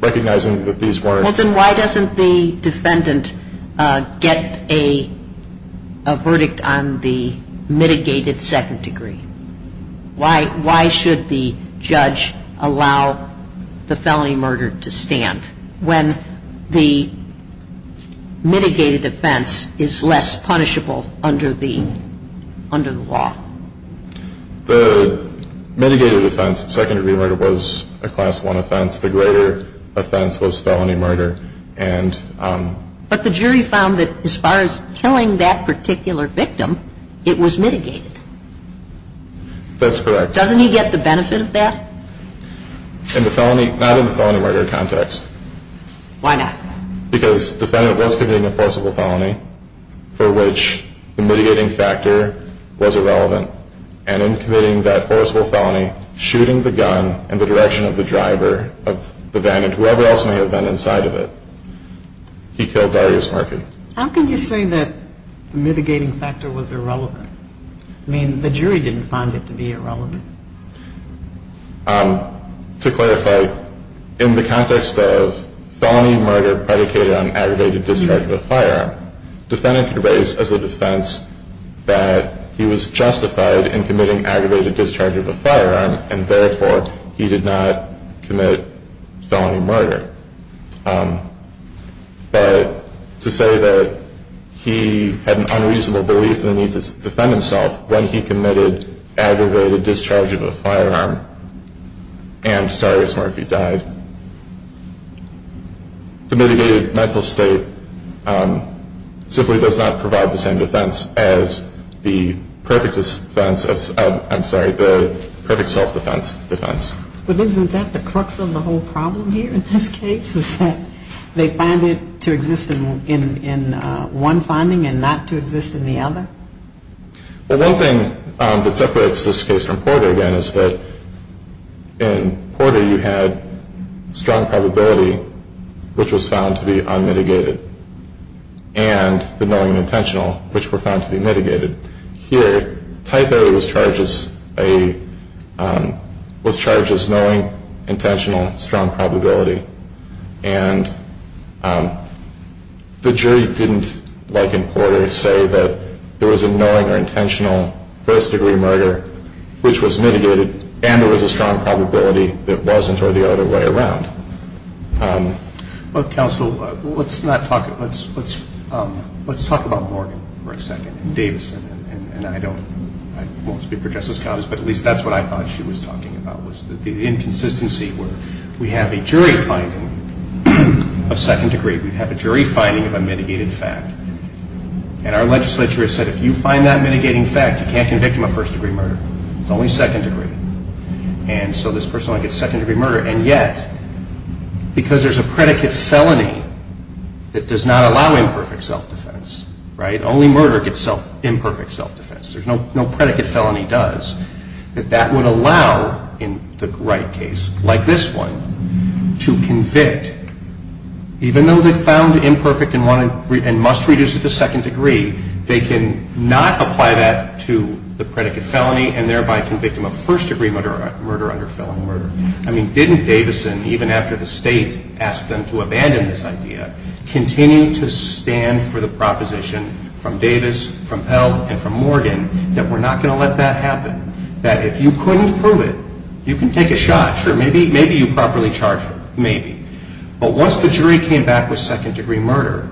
recognizing that these were. Well, then why doesn't the defendant get a verdict on the mitigated second degree? Why should the judge allow the felony murder to stand when the mitigated offense is less punishable under the law? The mitigated offense, second degree murder was a class one offense. The greater offense was felony murder. But the jury found that as far as killing that particular victim, it was mitigated. That's correct. Doesn't he get the benefit of that? In the felony, not in the felony murder context. Why not? Because the defendant was committing a forcible felony for which the mitigating factor was irrelevant. And in committing that forcible felony, shooting the gun in the direction of the driver of the vandit, whoever else may have been inside of it, he killed Darius Murphy. How can you say that the mitigating factor was irrelevant? I mean, the jury didn't find it to be irrelevant. To clarify, in the context of felony murder predicated on aggravated discharging of a firearm, the defendant debates as a defense that he was justified in committing aggravated discharging of a firearm, and, therefore, he did not commit felony murder. But to say that he had an unreasonable belief in the need to defend himself when he committed aggravated discharging of a firearm and Darius Murphy died, the mitigated mental state simply does not provide the same defense as the perfect self-defense defense. But isn't that the crux of the whole problem here in this case, is that they find it to exist in one finding and not to exist in the other? Well, one thing that separates this case from Porter, again, is that in Porter you had strong probability, which was found to be unmitigated, and the moment of intentional, which were found to be mitigated. Here, Type A was charged as knowing, intentional, strong probability, and the jury didn't, like in Porter, say that there was a known or intentional first-degree murder, which was mitigated, and there was a strong probability that it wasn't or the other way around. Counsel, let's talk about Morgan for a second, and Davis, and I won't speak for Justice Collins, but at least that's what I thought she was talking about, was the inconsistency where we have a jury finding of second-degree. We have a jury finding of a mitigated fact, and our legislature has said, if you find that mitigating fact, you can't convict him of first-degree murder. It's only second-degree. And so this person only gets second-degree murder, and yet, because there's a predicate felony that does not allow imperfect self-defense, right? Only murder gets imperfect self-defense. No predicate felony does. That that would allow, in the Wright case, like this one, to convict, even though they found imperfect and must reduce it to second-degree, they can not apply that to the predicate felony, and thereby convict him of first-degree murder under felony murder. I mean, didn't Davison, even after the state asked them to abandon this idea, continue to stand for the proposition from Davis, from Pell, and from Morgan, that we're not going to let that happen? That if you couldn't prove it, you can take a shot. Sure, maybe you properly charged her. Maybe. But once the jury came back with second-degree murder,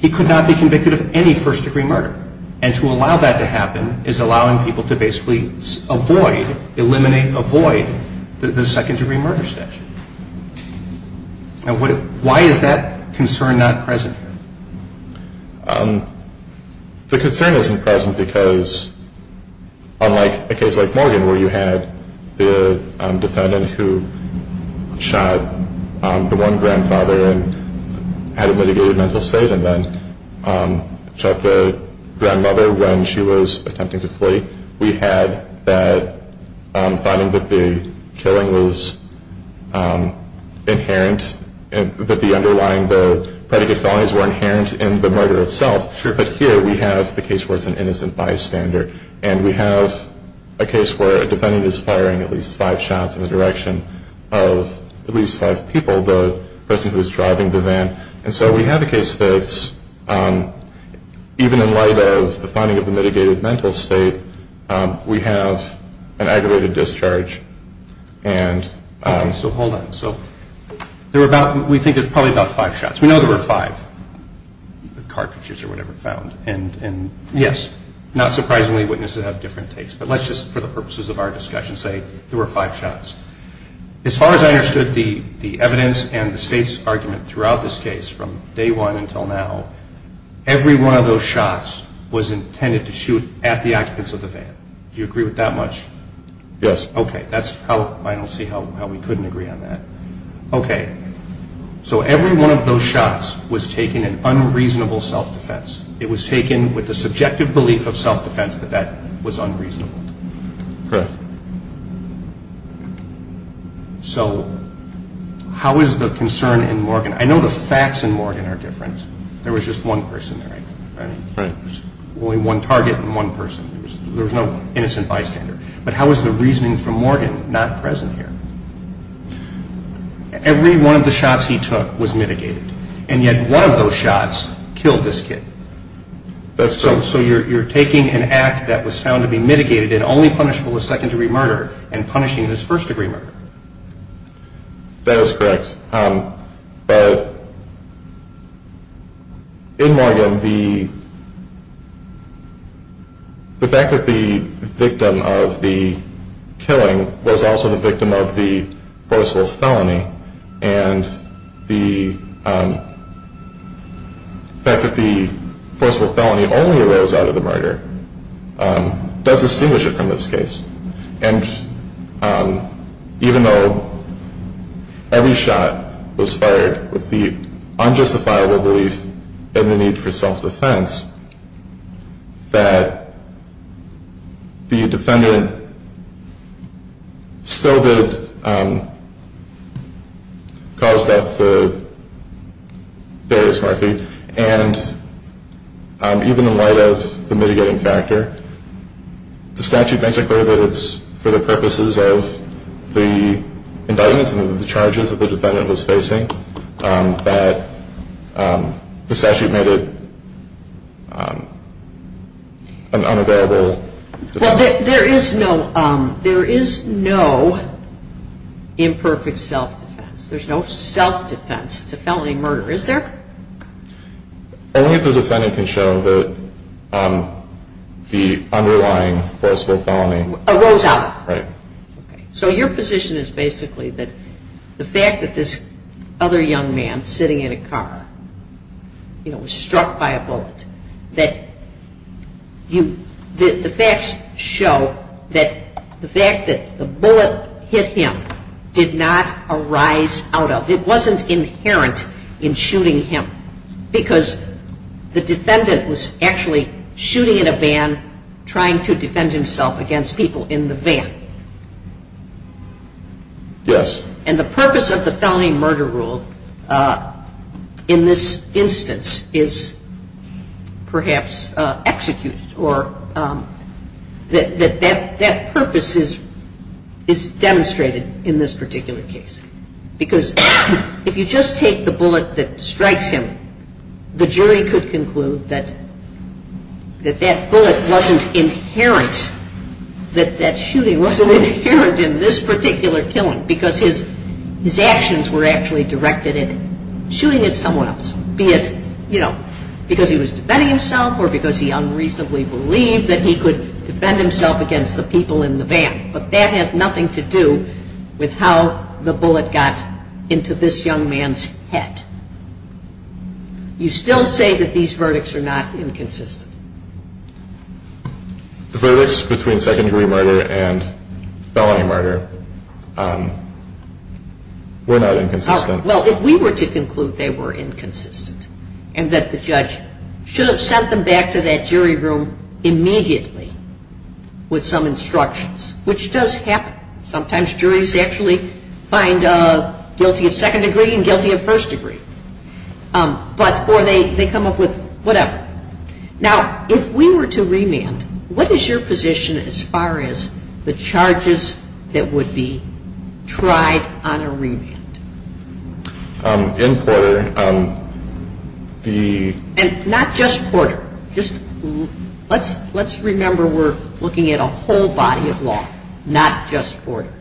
he could not be convicted of any first-degree murder. And to allow that to happen is allowing people to basically avoid, eliminate, avoid the second-degree murder statute. Now, why is that concern not present? The concern isn't present because, unlike a case like Morgan, where you have the defendant who shot the one grandfather and had a mitigated mental state, and then shot the grandmother when she was attempting to flee, we had that finding that the killing was inherent, that the underlying predicate felonies were inherent in the murder itself. But here we have the case where it's an innocent bystander, and we have a case where a defendant is firing at least five shots in the direction of at least five people, the person who's driving the van. And so we have a case that even in light of the finding of the mitigated mental state, we have an aggravated discharge. So hold on. We think it's probably about five shots. We know there were five cartridges or whatever found. And yes, not surprisingly, witnesses have different tastes. But let's just, for the purposes of our discussion, say there were five shots. As far as I understood the evidence and the state's argument throughout this case, from day one until now, every one of those shots was intended to shoot at the occupants of the van. Do you agree with that much? Yes. Okay. That's how I don't see how we couldn't agree on that. Okay. So every one of those shots was taking an unreasonable self-defense. It was taken with the subjective belief of self-defense that that was unreasonable. Correct. So how is the concern in Morgan? I know the facts in Morgan are different. There was just one person there, right? Right. Only one target and one person. There was no innocent bystander. But how is the reasoning from Morgan not present here? Every one of the shots he took was mitigated. And yet one of those shots killed this kid. That's true. So you're taking an act that was found to be mitigated and only punishable with second-degree murder and punishing his first-degree murder. That is correct. But in Morgan, the fact that the victim of the killing was also the victim of the forceful felony and the fact that the forceful felony only arose out of the murder does distinguish it from this case. And even though every shot was fired with the unjustifiable belief in the need for self-defense, that the defendant still did cause death for various reasons. And even in light of the mitigating factor, the statute doesn't prohibit for the purposes of the indictment and the charges that the defendant was facing that the statute made it unavailable. Well, there is no imperfect self-defense. There's no self-defense to felony murder, is there? Only if the defendant can show that the underlying forceful felony arose out of it. Right. So your position is basically that the fact that this other young man sitting in a car was struck by a bullet, that the facts show that the fact that the bullet hit him did not arise out of it. It wasn't inherent in shooting him because the defendant was actually shooting in a van, trying to defend himself against people in the van. Yes. And the purpose of the felony murder rule in this instance is perhaps executed, or that that purpose is demonstrated in this particular case. Because if you just take the bullet that strikes him, the jury could conclude that that bullet wasn't inherent, that that shooting wasn't inherent in this particular killing because his actions were actually directed at shooting at someone else, be it, you know, because he was defending himself or because he unreasonably believed that he could defend himself against the people in the van. But that has nothing to do with how the bullet got into this young man's head. You still say that these verdicts are not inconsistent. The verdicts between secondary murder and felony murder were not inconsistent. Well, if we were to conclude they were inconsistent and that the judge should have sent them back to that jury room immediately with some instructions, which does happen. Sometimes juries actually find guilty of second degree and guilty of first degree. Or they come up with whatever. Now, if we were to remand, what is your position as far as the charges that would be tried on a remand? And not just quarter. Let's remember we're looking at a whole body of law, not just quarter.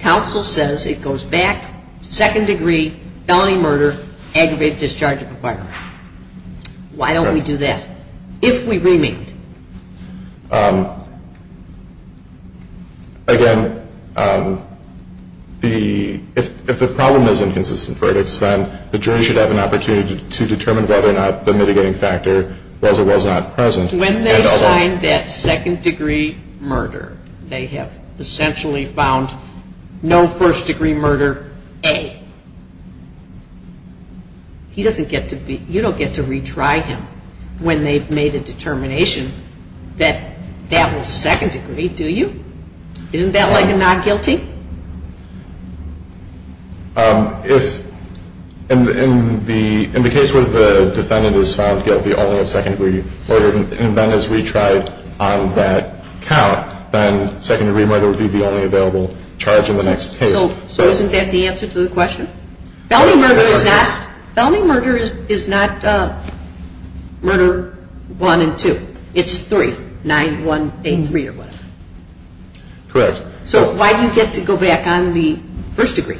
Counsel says it goes back to second degree, felony murder, aggravated discharge of a firearm. Why don't we do that? If we remand. Again, if the problem is inconsistent, the jury should have an opportunity to determine whether or not the mitigating factor was or was not present. Because when they find that second degree murder, they have essentially found no first degree murder A. You don't get to retry him when they've made a determination that that was second degree, do you? Isn't that like a non-guilty? In the case where the defendant is found guilty only of second degree murder, and then is retried on that count, then second degree murder would be the only available charge in the next case. So isn't that the answer to the question? Felony murder is not murder 1 and 2. It's 3, 9, 1, 8, 3, or whatever. Correct. So why did you get to go back on the first degree?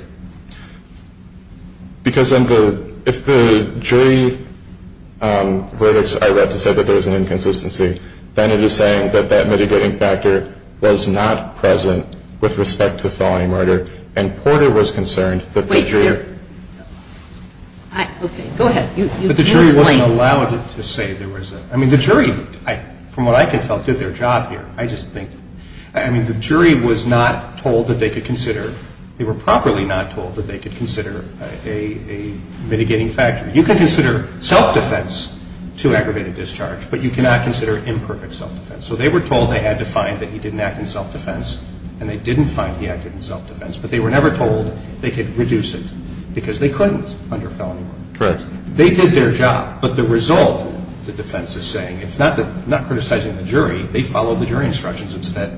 Because if the jury verdicts I read to say that there was an inconsistency, then it is saying that that mitigating factor was not present with respect to felony murder, and Porter was concerned that the jury... But the jury wasn't allowed to say there was a... I mean, the jury, from what I can tell, did their job here. I just think... I mean, the jury was not told that they could consider... They were properly not told that they could consider a mitigating factor. You could consider self-defense to aggravated discharge, but you cannot consider imperfect self-defense. So they were told they had to find that he didn't act in self-defense, and they didn't find he acted in self-defense, but they were never told they could reduce it because they couldn't under felony murder. Correct. They did their job, but the result, the defense is saying, it's not that they're not criticizing the jury. They followed the jury instructions. It's that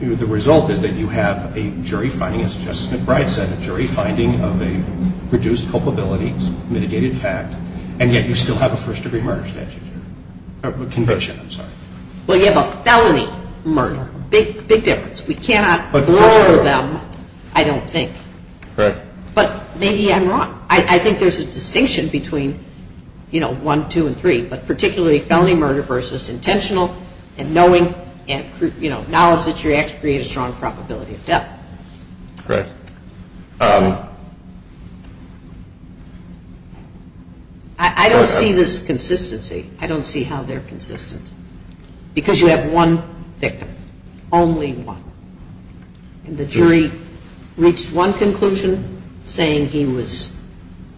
the result is that you have a jury finding, as Justice McBride said, a jury finding of a reduced culpability mitigating factor, and yet you still have a first degree murder statute, or conviction, I'm sorry. Well, you have a felony murder. Big, big difference. We cannot blur them, I don't think. Right. But maybe I'm wrong. I think there's a distinction between, you know, one, two, and three, but particularly felony murder versus intentional and knowing, you know, knowledge that your act creates a strong probability of death. Correct. I don't see this consistency. I don't see how they're consistent because you have one victim, only one, and the jury reached one conclusion saying he was,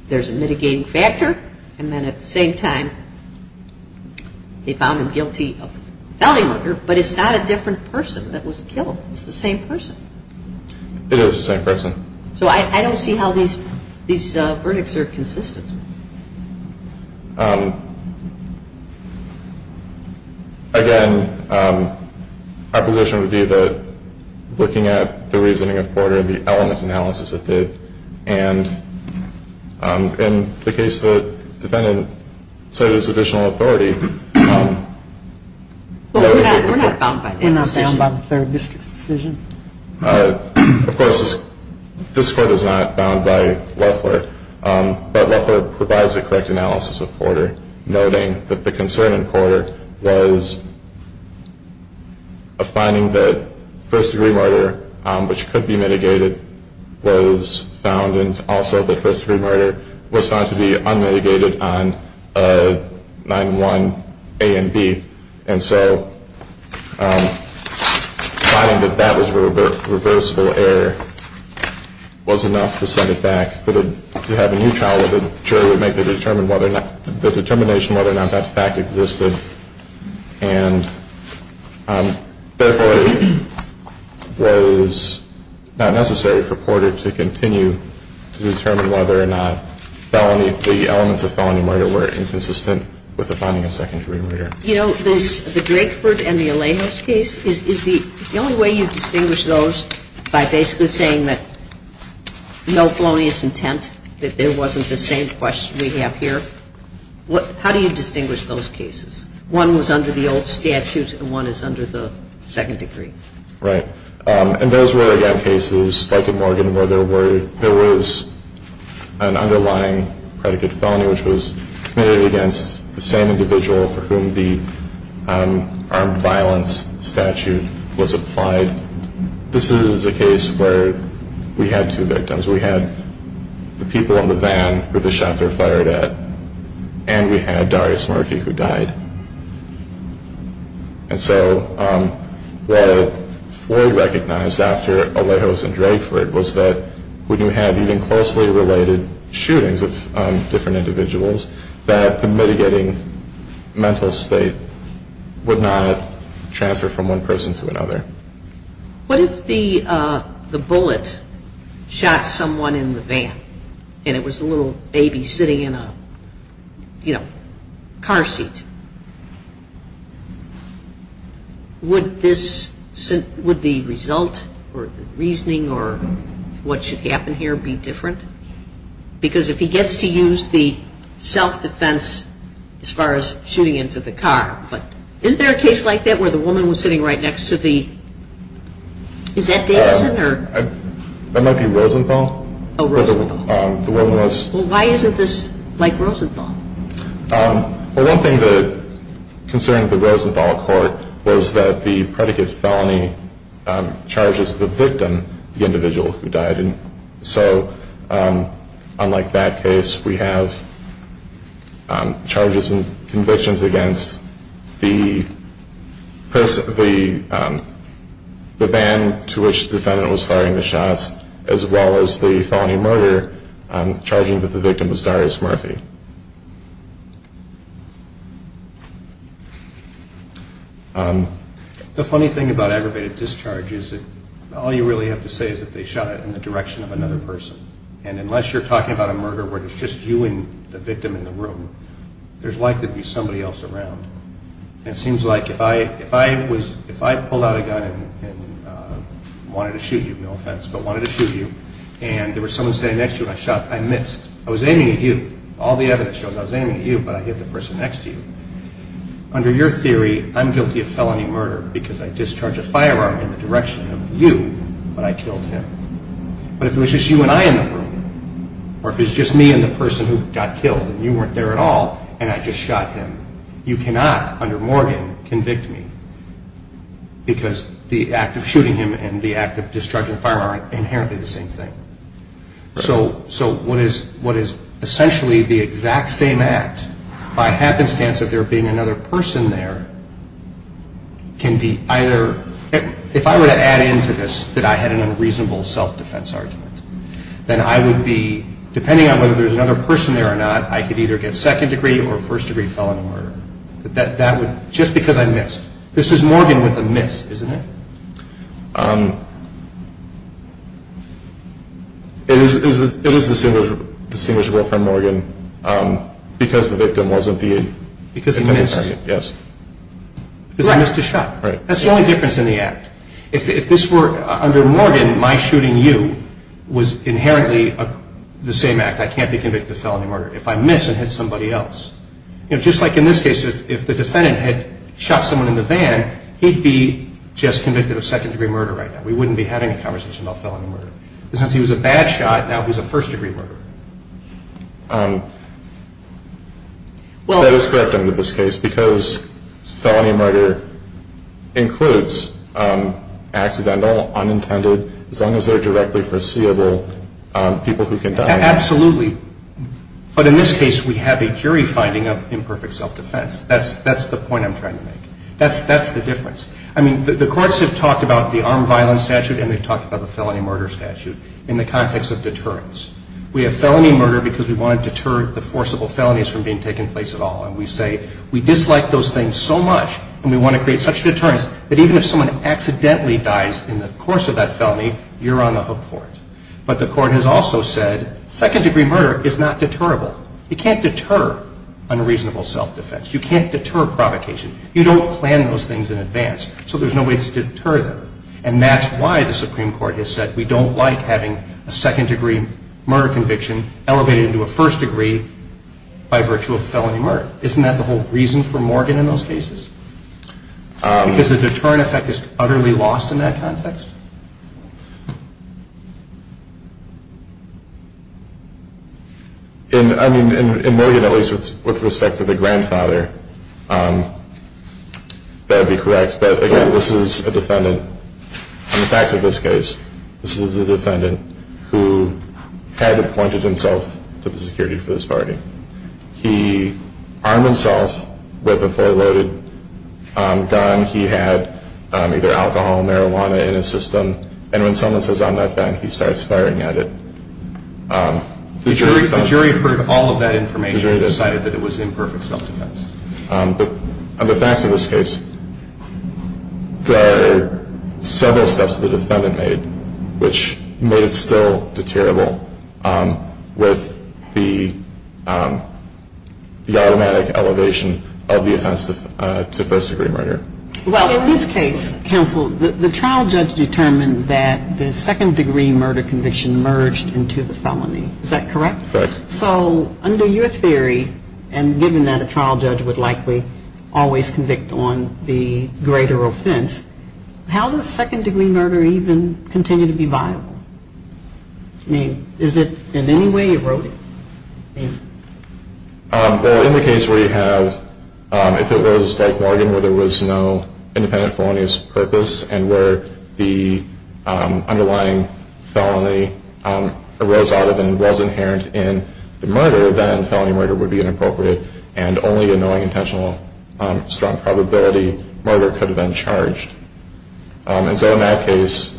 there's a mitigating factor, and then at the same time they found him guilty of felony murder, but it's not a different person that was killed. It's the same person. It is the same person. So I don't see how these verdicts are consistent. Again, my position would be looking at the reasoning of Porter and the elements analysis of it, and in the case of the defendant, say there's additional authority. But we're not found by the third decision. Of course, this court is not found by Loeffler, but Loeffler provides a correct analysis of Porter, noting that the concern in Porter was a finding that first-degree murder, which could be mitigated, was found, and also the first-degree murder was found to be unmitigated on 9-1-1 A and B, and so finding that that was a reversible error was enough to send it back. If you had a new trial, the jury would make the determination whether or not that fact existed, and therefore it was not necessary for Porter to continue to determine whether or not the elements of felony murder were inconsistent with the finding of second-degree murder. You know, the Drakeford and the Alamos case, is the only way you distinguish those by basically saying that no felonious intent, that there wasn't the same question we have here? How do you distinguish those cases? One was under the old statute and one is under the second degree? Right. And those were, again, cases like in Morgan where there was an underlying predicate of felony, which was clearly against the same individual for whom the armed violence statute was applied. This is a case where we had two victims. We had the people in the van that the shots were fired at, and we had Darius Murphy who died. And so what Floyd recognized after Alejos and Drakeford was that when you had even closely related shootings with different individuals, that the mitigating mental state would not transfer from one person to another. What if the bullet shot someone in the van, and it was a little baby sitting in a, you know, car seat? Would the result or reasoning or what should happen here be different? Because if he gets to use the self-defense as far as shooting into the car, but isn't there a case like that where the woman was sitting right next to the, is that Davidson or? That might be Rosenthal. Oh, Rosenthal. The woman was. Well, why isn't this like Rosenthal? Well, one thing considering the Rosenthal court was that the predicate's felony charges the victim, the individual who died. So unlike that case, we have charges and convictions against the person, the van to which the defendant was firing the shots, as well as the felony murder charging that the victim was Darius Murphy. The funny thing about aggravated discharge is that all you really have to say is that they shot it in the direction of another person. And unless you're talking about a murder where it's just you and the victim in the room, there's likely to be somebody else around. It seems like if I pulled out a gun and wanted to shoot you, no offense, but wanted to shoot you, and there was someone standing next to you and I shot, I missed. I was aiming at you. All the evidence shows I was aiming at you, but I hit the person next to you. Under your theory, I'm guilty of felony murder because I discharged a firearm in the direction of you, but I killed him. But if it was just you and I in the room, or if it was just me and the person who got killed and you weren't there at all and I just shot him, you cannot, under Morgan, convict me because the act of shooting him and the act of discharging a firearm are inherently the same thing. So what is essentially the exact same act, by happenstance of there being another person there, can be either... If I were to add in to this that I had an unreasonable self-defense argument, then I would be, depending on whether there's another person there or not, I could either get second degree or first degree felony murder. Just because I missed. This is Morgan with the miss, isn't it? It is distinguishable from Morgan because the victim wasn't being... Because of the miss. Yes. Because I missed a shot. That's the only difference in the act. If this were, under Morgan, my shooting you was inherently the same act. I can't be convicted of felony murder if I miss and hit somebody else. Just like in this case, if the defendant had shot someone in the van, he'd be just convicted of second degree murder right now. We wouldn't be having a conversation about felony murder. Because if he was a bad shot, that was a first degree murder. Well, that is correct under this case because felony murder includes accidental, unintended, as long as they're directly foreseeable, people who can die. Absolutely. But in this case, we have a jury finding of imperfect self-defense. That's the point I'm trying to make. That's the difference. I mean, the courts have talked about the armed violence statute and they've talked about the felony murder statute in the context of deterrence. We have felony murder because we want to deter the forcible felonies from being taken place at all. And we say we dislike those things so much and we want to create such deterrence that even if someone accidentally dies in the course of that felony, you're on the hook for it. But the court has also said second degree murder is not deterrable. You can't deter unreasonable self-defense. You can't deter provocation. You don't plan those things in advance. So there's no way to deter them. And that's why the Supreme Court has said we don't like having a second degree murder conviction elevated into a first degree by virtue of felony murder. Isn't that the whole reason for Morgan in those cases? Because the deterrent effect is utterly lost in that context? In Morgan, at least with respect to the grandfather, that would be correct. But, again, this is a defendant, in the facts of this case, this is a defendant who had appointed himself to the security for this party. He armed himself with a four-load gun. He had either alcohol or marijuana in his system. And when someone says, I'm not done, he starts firing at it. The jury heard all of that information and decided that it was imperfect self-defense. But in the facts of this case, there are several steps the defendant made which made it still deterrable with the automatic elevation of the offense to first degree murder. Well, in this case, Jim, the trial judge determined that the second degree murder conviction merged into the felony. Is that correct? Correct. So under your theory, and given that a trial judge would likely always convict on the greater offense, how does second degree murder even continue to be viable? I mean, is it in any way eroded? Well, in the case where you have, if it was like Morgan where there was no independent felonious purpose and where the underlying felony arose out of and was inherent in the murder, then felony murder would be inappropriate and only a non-intentional strong probability murder could have been charged. And so in that case,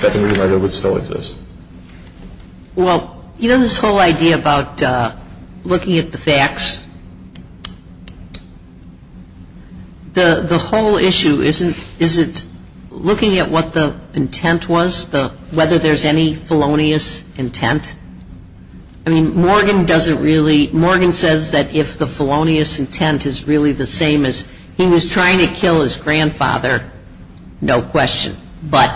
second degree murder would still exist. Well, you know this whole idea about looking at the facts? The whole issue isn't looking at what the intent was, whether there's any felonious intent. I mean, Morgan says that if the felonious intent is really the same as he was trying to kill his grandfather, no question, but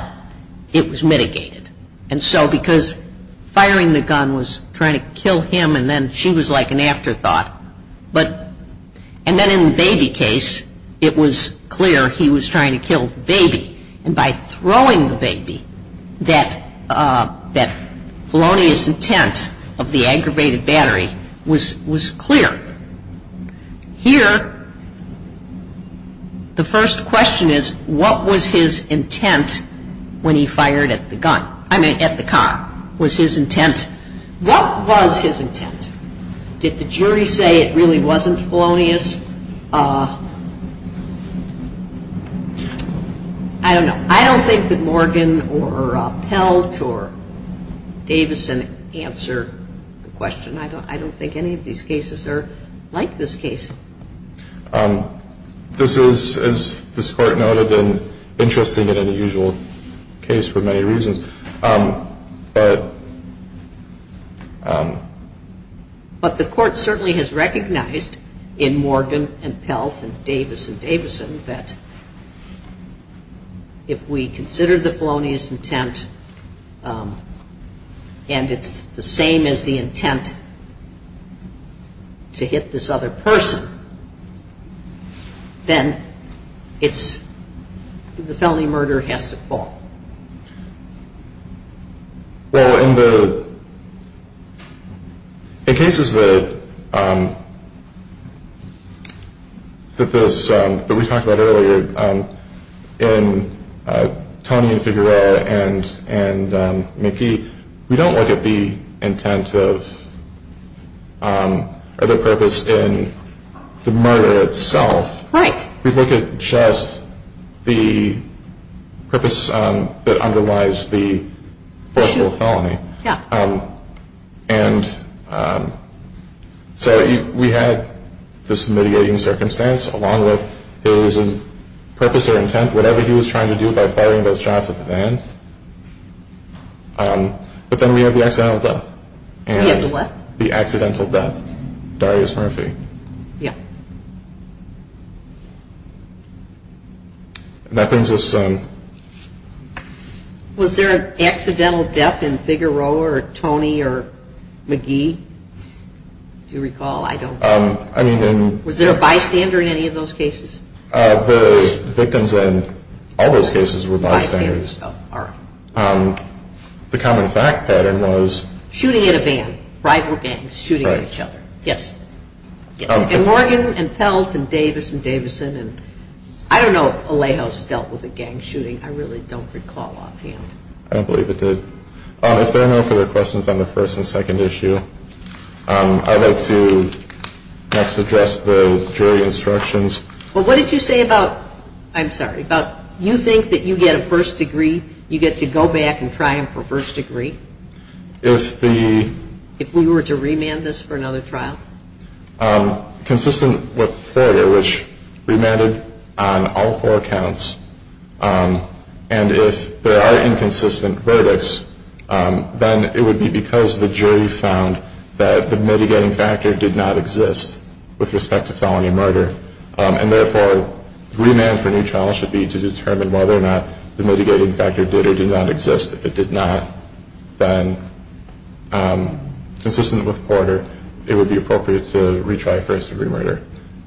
it was mitigated. And so because firing the gun was trying to kill him and then she was like an afterthought. And then in the baby case, it was clear he was trying to kill the baby. And by throwing the baby, that felonious intent of the aggravated battery was clear. Here, the first question is, what was his intent when he fired at the cop? Was his intent, what was his intent? Did the jury say it really wasn't felonious? I don't know. I don't think that Morgan or Pelt or Davison answered the question. I don't think any of these cases are like this case. This is, as this court noted, an interesting and unusual case for many reasons. But the court certainly has recognized in Morgan and Pelt and Davis and Davison that if we consider the felonious intent and it's the same as the intent to hit this other person, then the felony murder has to fall. Well, in the cases that we talked about earlier, in Tommy and Figueroa and McKee, we don't look at the intent of the purpose in the murder itself. We look at just the purpose that underlies the potential felony. And so we had this mediating circumstance along with his purpose or intent, whatever he was trying to do by firing those shots at the man. But then we have the accidental death. We have the what? The accidental death, Darius Murphy. Murphy? Yeah. That brings us to... Was there an accidental death in Figueroa or Tommy or McKee? Do you recall? I don't know. Was there a bystander in any of those cases? The victims in all those cases were bystanders. The common fact pattern was... Yes. And Morgan and Peltz and Davis and Davison and... I don't know if Alejos dealt with a gang shooting. I really don't recall on hand. I don't believe it did. If there are no further questions on the first and second issue, I'd like to suggest the jury instructions. Well, what did you say about... I'm sorry, about you think that you get a first degree, you get to go back and try them for first degree? If we were to remand this for another trial? Consistent with FOIA, which remanded on all four counts, and if there are inconsistent verdicts, then it would be because the jury found that the mitigating factor did not exist with respect to felony murder, and therefore remand for a new trial should be to determine whether or not the mitigating factor did or did not exist. If it did not, then consistent with FOIA, it would be appropriate to retry first degree murder.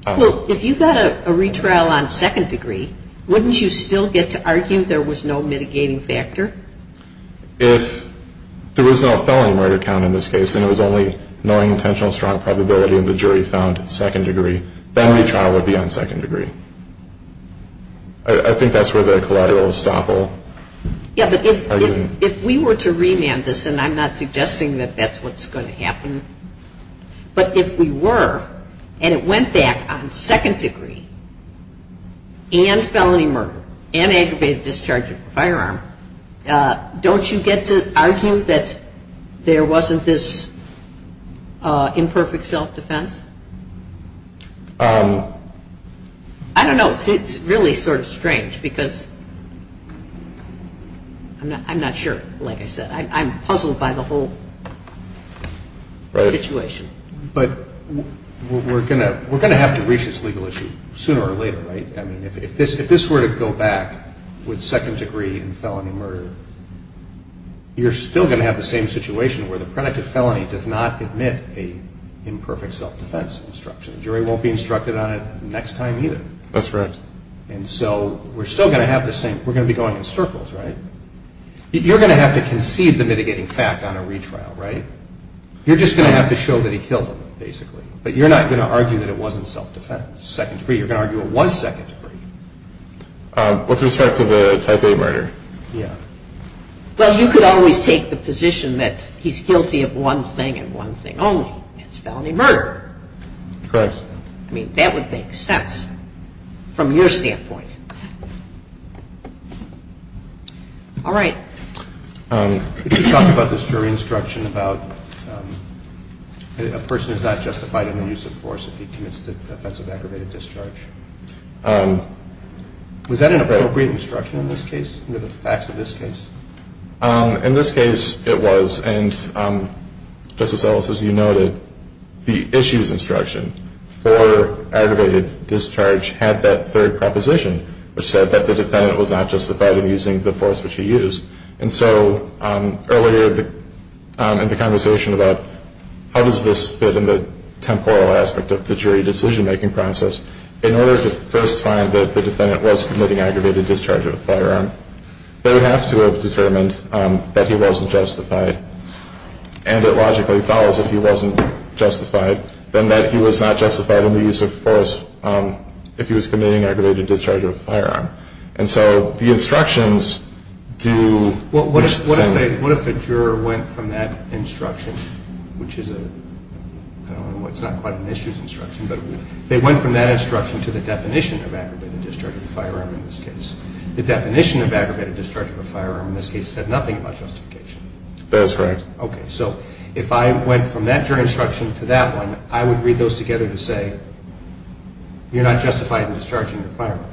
Well, if you got a retrial on second degree, wouldn't you still get to argue there was no mitigating factor? If there was no felony murder count in this case and it was only knowing intentional strong probability and the jury found second degree, then retrial would be on second degree. I think that's where the collateral is thoughtful. Yeah, but if we were to remand this, and I'm not suggesting that that's what's going to happen, but if we were, and it went back on second degree, and felony murder, and aggravated discharge of the firearm, don't you get to argue that there wasn't this imperfect self-defense? I don't know. It's really sort of strange because I'm not sure, like I said. I'm puzzled by the whole situation. But we're going to have to reach this legal issue sooner or later, right? I mean, if this were to go back with second degree and felony murder, you're still going to have the same situation where the predictive felony does not admit an imperfect self-defense instruction. The jury won't be instructed on it next time either. That's right. And so we're still going to have this thing. We're going to be going in circles, right? You're going to have to concede the mitigating fact on a retrial, right? You're just going to have to show that he killed him, basically. But you're not going to argue that it wasn't self-defense. You're going to argue it was second degree. With respect to the type A murder? Yeah. Well, you could always take the position that he's guilty of one thing and one thing only. It's felony murder. Correct. I mean, that would make sense from your standpoint. All right. Could you talk about this jury instruction about a person is not justified in the use of force if he commits the offense of aggravated discharge? Was that an appropriate instruction in this case, in the facts of this case? In this case, it was. And Justice Ellis, as you noted, the issues instruction for aggravated discharge had that third proposition, which said that the defendant was not justified in using the force which he used. And so earlier in the conversation about how does this fit in the temporal aspect of the jury decision-making process, in order for the first time that the defendant was committing aggravated discharge of a firearm, they have to have determined that he wasn't justified. And it logically follows that he wasn't justified, then that he was not justified in the use of force if he was committing aggravated discharge of a firearm. And so the instructions do- Well, what if the juror went from that instruction, which is a-I don't know, from that instruction to the definition of aggravated discharge of a firearm in this case? The definition of aggravated discharge of a firearm in this case said nothing about justification. That is correct. Okay, so if I went from that jury instruction to that one, I would read those together to say, you're not justified in discharging a firearm.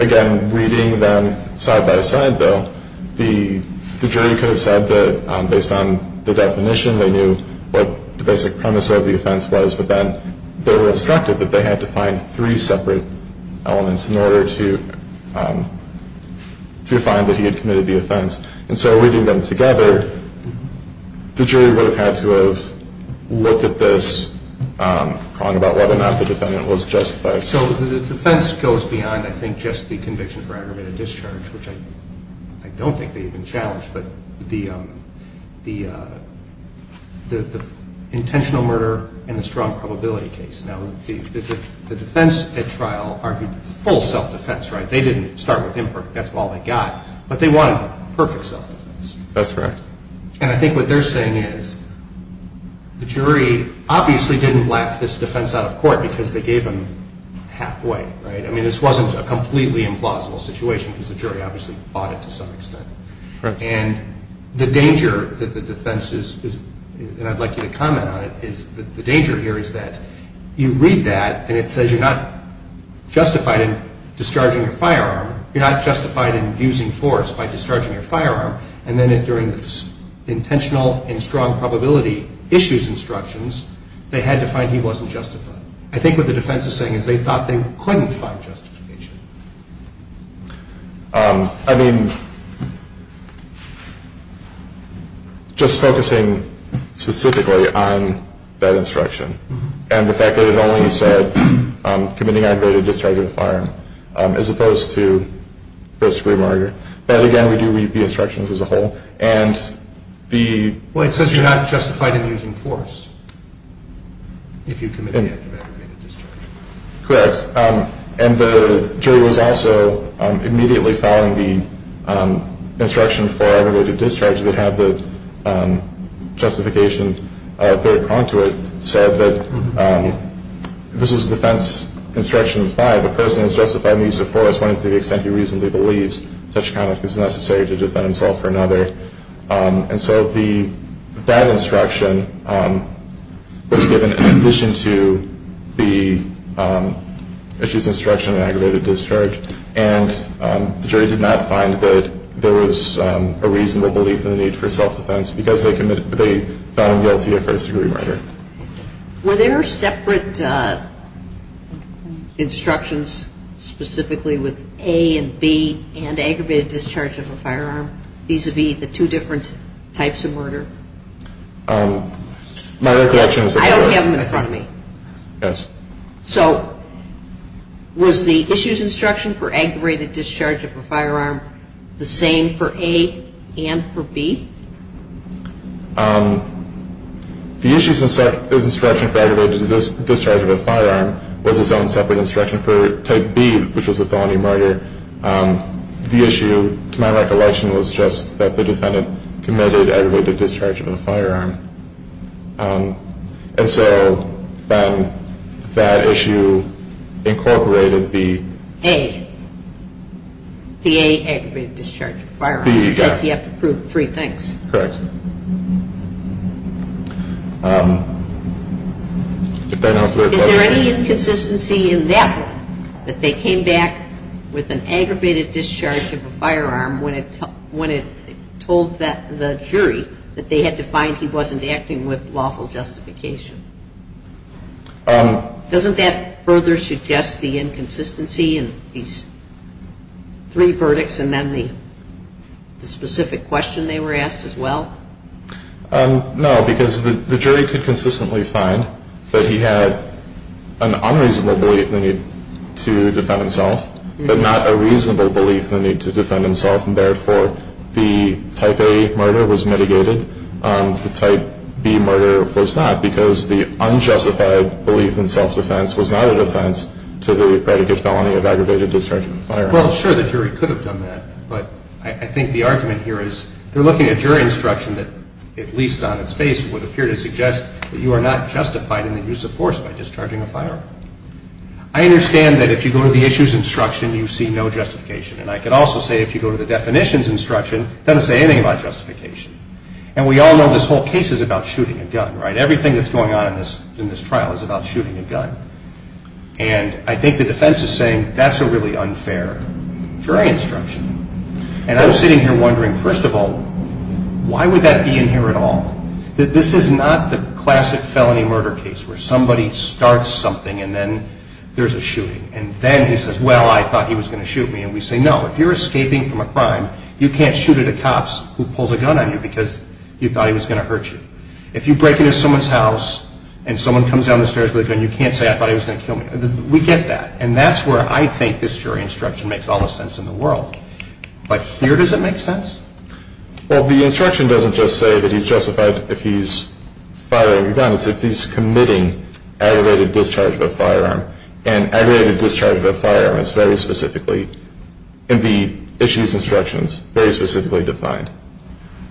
Again, reading them side-by-side, though, the jury could have said that based on the definition, they knew what the basic premise of the offense was, but then they were instructed that they had to find three separate elements in order to find that he had committed the offense. And so reading them together, the jury would have had to have looked at this, thought about whether or not the defendant was justified. So the defense goes beyond, I think, just the conviction for aggravated discharge, which I don't think they even challenged, but the intentional murder and the strong probability case. Now, the defense at trial argued full self-defense, right? They didn't start with imperfect, that's all they got. But they wanted perfect self-defense. That's correct. And I think what they're saying is the jury obviously didn't let this defense out of court because they gave them half-way, right? I mean, this wasn't a completely implausible situation because the jury obviously fought it to some extent. And the danger that the defense is, and I'd like you to comment on it, is the danger here is that you read that and it says you're not justified in discharging a firearm, you're not justified in abusing force by discharging a firearm, and then if you're in this intentional and strong probability issues instructions, they had to find he wasn't justified. I think what the defense is saying is they thought they couldn't find justification. I mean, just focusing specifically on that instruction and the fact that it only said committing aggravated discharge of a firearm as opposed to first-degree murder, that again would be the instructions as a whole, and the... Correct. And the jury was also immediately following the instruction for aggravated discharge. They had the justification, their contract said that this is a defense instruction in five. A person is justified in use of force only to the extent he reasonably believes such comment is necessary to defend himself or another. And so that instruction was given in addition to the issues of instruction on aggravated discharge, and the jury did not find that there was a reasonable belief in the need for self-defense because they found guilty of first-degree murder. Were there separate instructions specifically with A and B and aggravated discharge of a firearm vis-à-vis the two different types of murder? My recollection is that... I don't have them in front of me. Yes. So was the issues instruction for aggravated discharge of a firearm the same for A and for B? The issues instruction for aggravated discharge of a firearm was its own separate instruction for type B, which was a felony murder. The issue, to my recollection, was just that the defendant committed aggravated discharge of a firearm. And so then that issue incorporated the... A. The A, aggravated discharge of a firearm. B, yes. Because you have to prove three things. Correct. Is there any inconsistency in that one, that they came back with an aggravated discharge of a firearm when it told the jury that they had to find he wasn't acting with lawful justification? Doesn't that further suggest the inconsistency in these three verdicts Does that further amend the specific question they were asked as well? No, because the jury could consistently find that he had an unreasonable belief in the need to defend himself, but not a reasonable belief in the need to defend himself. And therefore, the type A murder was mitigated. The type B murder was not because the unjustified belief in self-defense was not a defense to the predicate felony of aggravated discharge of a firearm. Well, sure, the jury could have done that. But I think the argument here is they're looking at jury instruction that, at least on its face, would appear to suggest that you are not justified in the use of force by discharging a firearm. I understand that if you go to the issue's instruction, you see no justification. And I can also say if you go to the definition's instruction, it doesn't say anything about justification. And we all know this whole case is about shooting a gun, right? And I think the defense is saying that's a really unfair jury instruction. And I'm sitting here wondering, first of all, why would that be in here at all? This is not the classic felony murder case where somebody starts something and then there's a shooting. And then he says, well, I thought he was going to shoot me. And we say, no, if you're escaping from a crime, you can't shoot at a cop who pulls a gun on you because you thought he was going to hurt you. If you break into someone's house and someone comes down the stairs with a gun, you can't say, I thought he was going to kill me. We get that. And that's where I think this jury instruction makes all the sense in the world. But here, does it make sense? Well, the instruction doesn't just say that he's justified if he's firing a gun. It's that he's committing aggravated discharge of a firearm. And aggravated discharge of a firearm is very specifically in the issue's instructions, very specifically defined.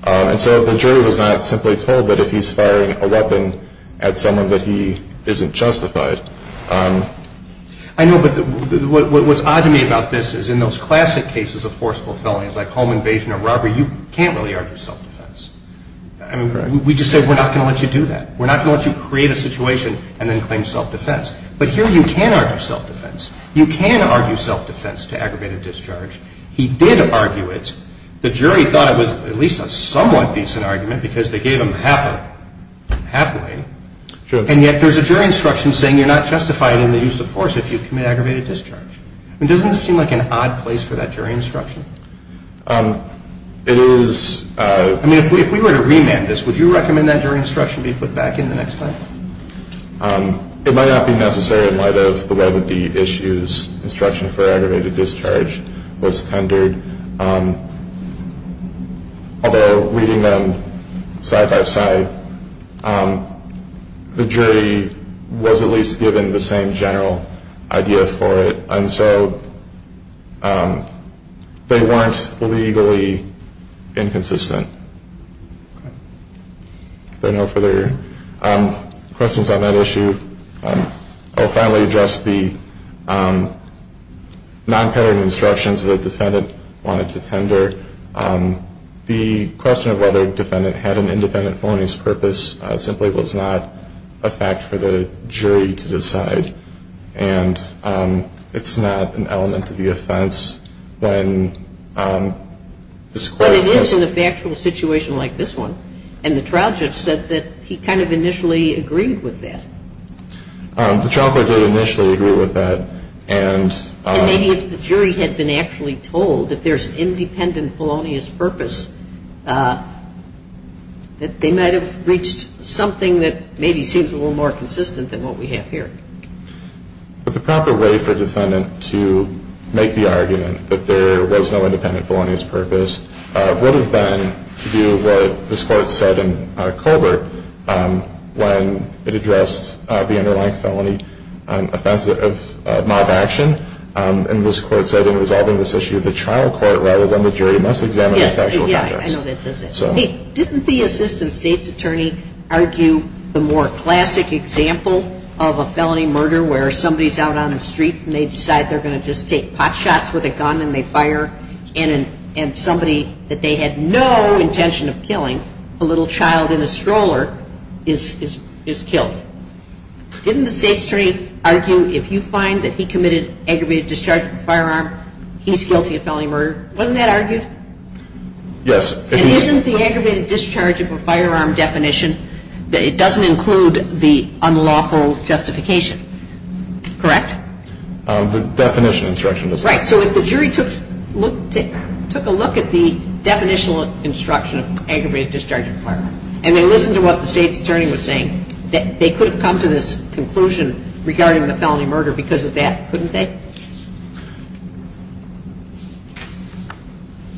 And so the jury was not simply told that if he's firing a weapon at someone that he isn't justified. I know, but what's odd to me about this is in those classic cases of forceful felonies like home invasion or robbery, you can't really argue self-defense. We just said we're not going to let you do that. We're not going to let you create a situation and then claim self-defense. But here you can argue self-defense. You can argue self-defense to aggravated discharge. He did argue it. The jury thought it was at least a somewhat decent argument because they gave him halfway. And yet there's a jury instruction saying you're not justified in the use of force if you commit aggravated discharge. I mean, doesn't this seem like an odd place for that jury instruction? I mean, if we were to remand this, would you recommend that jury instruction be put back in the next place? It might not be necessary in light of the way that the issues instruction for aggravated discharge was tendered. Although reading them side by side, the jury was at least given the same general idea for it. And so they weren't legally inconsistent. If there are no further questions on that issue, I'll finally address the nonpartisan instructions that the defendant wanted to tender. The question of whether the defendant had an independent phonies purpose simply was not a fact for the jury to decide. And it's not an element of the offense. But it is in a factual situation like this one. And the trial judge said that he kind of initially agreed with that. The trial judge did initially agree with that. And maybe if the jury had been actually told that there's an independent phonies purpose, that they might have reached something that maybe seems a little more consistent than what we have here. But the proper way for a defendant to make the argument that there was no independent phonies purpose would have been to do what this court said in Colbert when it addressed the underlying felony offense of mob action. And this court said in resolving this issue, the trial court rather than the jury must examine the factual facts. Didn't the assistant state's attorney argue the more classic example of a felony murder where somebody's out on the street and they decide they're going to just take pot shots with a gun and they fire? And somebody that they had no intention of killing, a little child in a stroller, is killed. Didn't the state's attorney argue if you find that he committed aggravated discharge of a firearm, he's guilty of felony murder? Wasn't that argued? Yes. And isn't the aggravated discharge of a firearm definition that it doesn't include the unlawful justification? Correct? The definition instruction. Right. So if the jury took a look at the definitional instruction of aggravated discharge of a firearm and then listened to what the state's attorney was saying, they couldn't come to this conclusion regarding a felony murder because of that, couldn't they?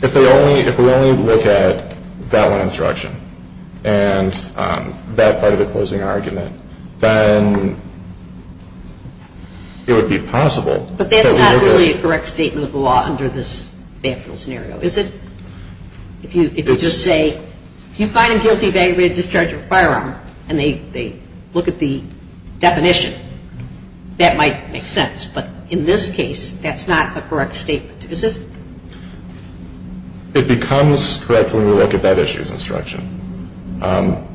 If we only look at that one instruction and that part of the closing argument, then it would be possible. But that's not really a correct statement of the law under this factual scenario, is it? If you just say, if you find a guilty of aggravated discharge of a firearm and they look at the definition, that might make sense. But in this case, that's not a correct statement. Is it? It becomes correct when we look at that issue's instruction,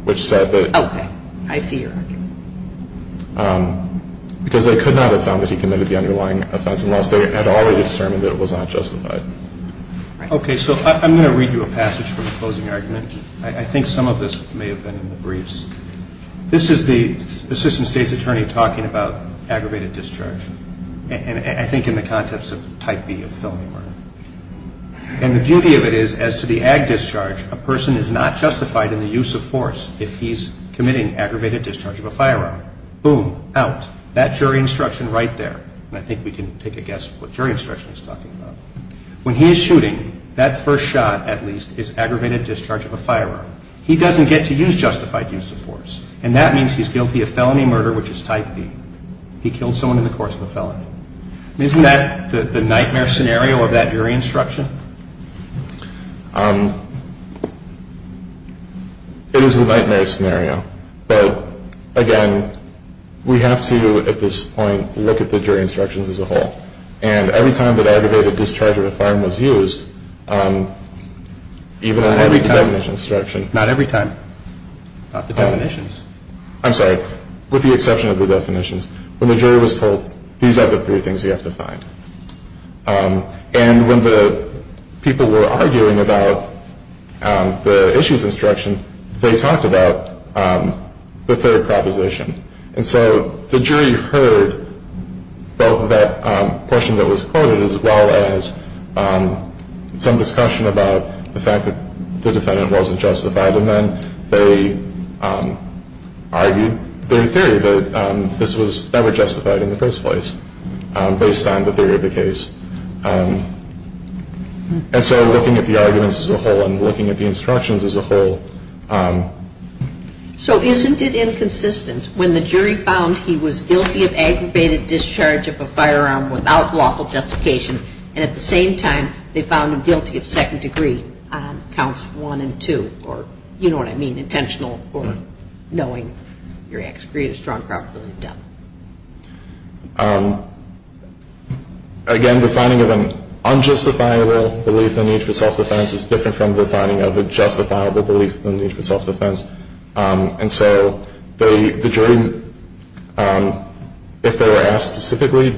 which said that... Okay. I see your argument. Because they could not have found that he committed the underlying offense unless they had already determined that it was unjustified. Okay. So I'm going to read you a passage from the closing argument. I think some of this may have been in the briefs. This is the assistant state's attorney talking about aggravated discharge. And I think in the context of Type B felony murder. And the beauty of it is, as to the ag discharge, a person is not justified in the use of force if he's committing aggravated discharge of a firearm. Boom. Out. That jury instruction right there. I think we can take a guess at what jury instruction is talking about. When he's shooting, that first shot, at least, is aggravated discharge of a firearm. He doesn't get to use justified use of force. And that means he's guilty of felony murder, which is Type B. He killed someone in the course of a felony. Isn't that the nightmare scenario of that jury instruction? It is a nightmare scenario. But, again, we have to, at this point, look at the jury instructions as a whole. And every time that aggravated discharge of a firearm is used, even on heavy definition instructions. Not every time. Not the definitions. I'm sorry. With the exception of the definitions. When the jury was told, these are the three things you have to find. And when the people were arguing about the issues instruction, they talked about the third proposition. And so the jury heard both of that portion that was quoted, as well as some discussion about the fact that the defendant wasn't justified in them. They argued their theory that this was never justified in the first place, based on the theory of the case. And so, looking at the arguments as a whole, and looking at the instructions as a whole. So, isn't it inconsistent when the jury found he was guilty of aggravated discharge of a firearm without lawful justification, and at the same time, they found him guilty of second degree counts one and two? Or, you know what I mean, intentional, or knowing your ex-grievous drunk properly done. Again, the finding of an unjustifiable belief in the need for self-defense is different from the finding of a justifiable belief in the need for self-defense. And so, the jury, if they were asked specifically,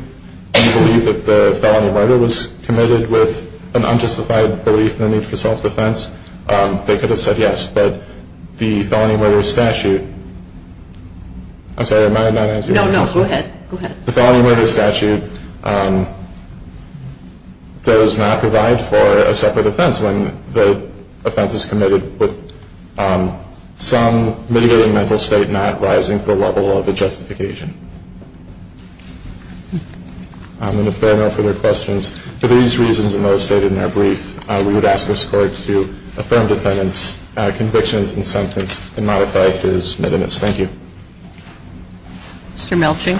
do you believe that the felony murder was committed with an unjustified belief in the need for self-defense, they could have said yes, but the felony murder is statute. I'm sorry, am I not answering your question? No, no, go ahead. The felony murder statute does not provide for a separate offense when the offense is committed with some mitigating mental state not rising to the level of a justification. And if there are no further questions, for these reasons demonstrated in that brief, we would ask this court to affirm the defendant's conviction and sentence and modify his mitigants. Thank you. Mr. Melching.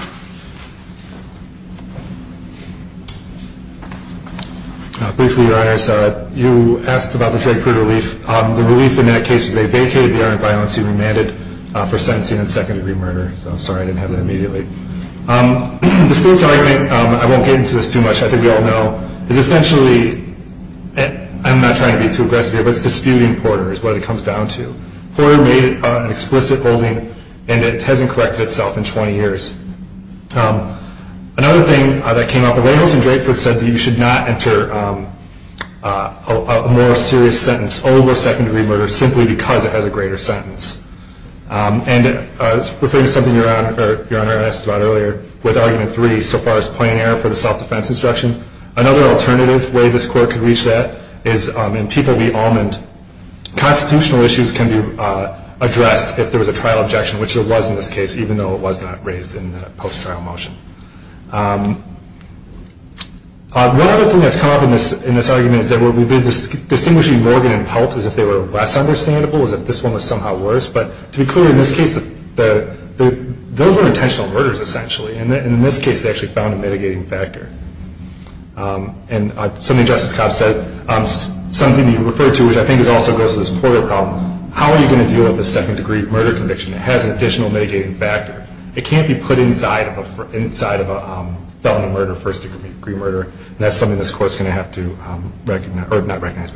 Thank you, Your Honor. You asked about the jail period relief. The relief in that case is they vacated the armed violence he remanded for sentencing and second degree murder. I'm sorry I didn't have that immediately. The school's argument, I won't get into this too much, I think we all know, is essentially, and I'm not trying to be too aggressive here, but disputing Porter is what it comes down to. Porter made an explicit holding and it hasn't corrected itself in 20 years. Another thing that came up, Reynolds and Drakeford said that you should not enter a more serious sentence over second degree murder simply because it has a greater sentence. And it's referring to something Your Honor asked about earlier with Argument 3, so far as plain error for the self-defense instruction. Another alternative way this court can reach that is in Tito v. Almond, constitutional issues can be addressed if there was a trial objection, which there was in this case, even though it was not raised in the post-trial motion. One other thing that's come up in this argument is that we've been distinguishing Morgan and Pelt as if they were less understandable, as if this one was somehow worse. But to be clear, in this case, those were intentional murders, essentially. And in this case, they actually found a mitigating factor. And something Justice Scott said, something you referred to, which I think also goes to this Porter problem, how are we going to deal with a second degree murder conviction that has an additional mitigating factor? It can't be put inside of a felony murder, first degree murder, and that's something this court's going to have to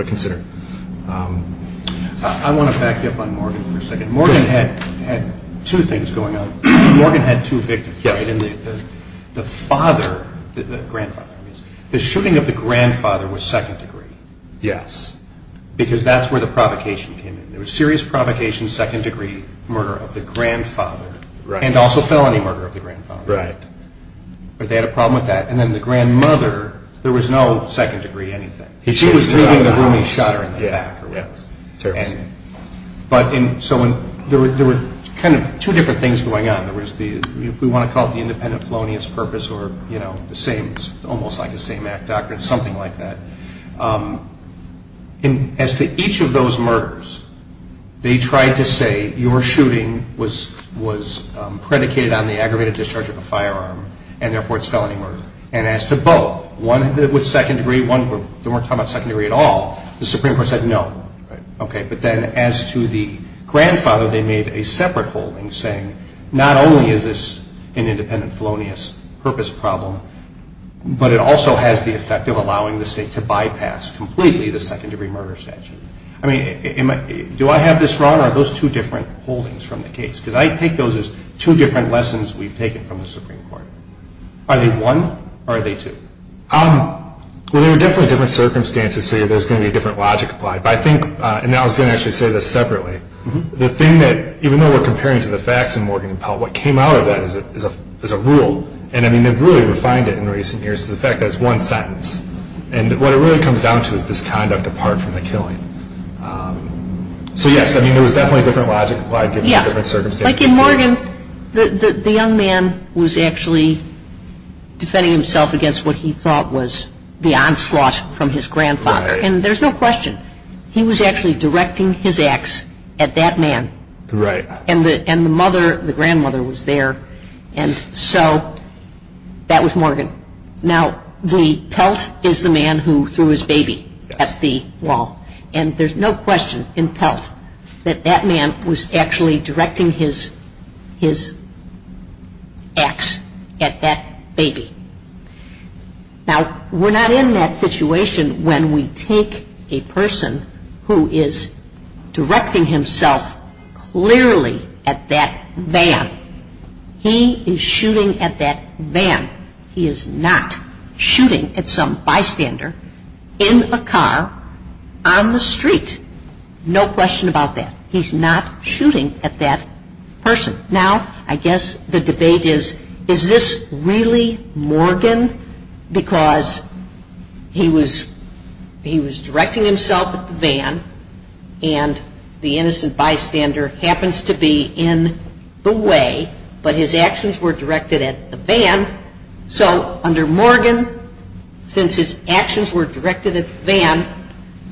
consider. I want to back up on Morgan for a second. Morgan had two things going on. Morgan had two victims, and the father, the grandfather, the shooting of the grandfather was second degree. Yes. Because that's where the provocation came in. There was serious provocation, second degree murder of the grandfather, and also felony murder of the grandfather. Right. But they had a problem with that. And then the grandmother, there was no second degree anything. She was doing the booming shutter in the back. So there were kind of two different things going on. If we want to call it the independent felonious purpose, or almost like the same act doctrine, something like that. As to each of those murders, they tried to say your shooting was predicated on the aggravated discharge of a firearm, and therefore it's a felony murder. And as to both, one with second degree, they weren't talking about second degree at all, the Supreme Court said no. Right. Okay. But then as to the grandfather, they made a separate holding saying not only is this an independent felonious purpose problem, but it also has the effect of allowing the state to bypass completely the second degree murder statute. I mean, do I have this wrong, or are those two different holdings from the case? Because I take those as two different lessons we've taken from the Supreme Court. Are they one, or are they two? Well, they're definitely different circumstances, so there's going to be a different logic applied. But I think, and I was going to actually say this separately, the thing that even though we're comparing to the facts in Morgan and Pell, what came out of that is a rule, and, I mean, they've really refined it in recent years to the fact that it's one sentence. And what it really comes down to is this time to depart from the killing. So, yes, I mean, there was definitely a different logic applied to different circumstances. Like in Morgan, the young man was actually defending himself against what he thought was the onslaught from his grandfather. And there's no question. He was actually directing his axe at that man. And the mother, the grandmother, was there. And so that was Morgan. Now, the Pell is the man who threw his baby at the wall. And there's no question in Pell that that man was actually directing his axe at that baby. Now, we're not in that situation when we take a person who is directing himself clearly at that van. He is shooting at that van. He is not shooting at some bystander in a car on the street. No question about that. He's not shooting at that person. Now, I guess the debate is, is this really Morgan? Because he was directing himself at the van, and the innocent bystander happens to be in the way, but his actions were directed at the van. So under Morgan, since his actions were directed at the van,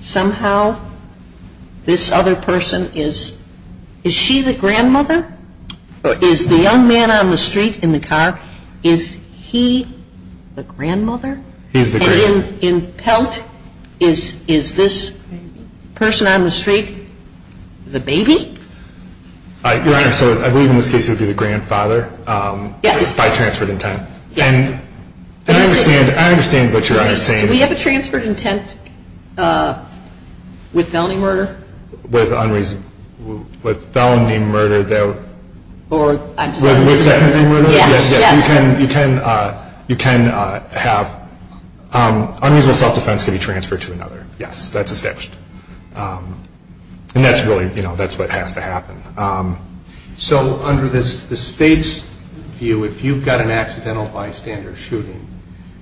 somehow this other person is, is she the grandmother? Is the young man on the street in the car, is he the grandmother? He is the grandmother. And in Pell, is this person on the street the baby? Your Honor, so I believe in this case it would be the grandfather by transfer of intent. And I understand what Your Honor is saying. Do we have a transfer of intent with felony murder? With felon named murder. Or I'm sorry. With second degree murder? Yes. You can have unreasonable self-defense can be transferred to another. Yes, that's established. And that's really, you know, that's what has to happen. So under the state's view, if you've got an accidental bystander shooting,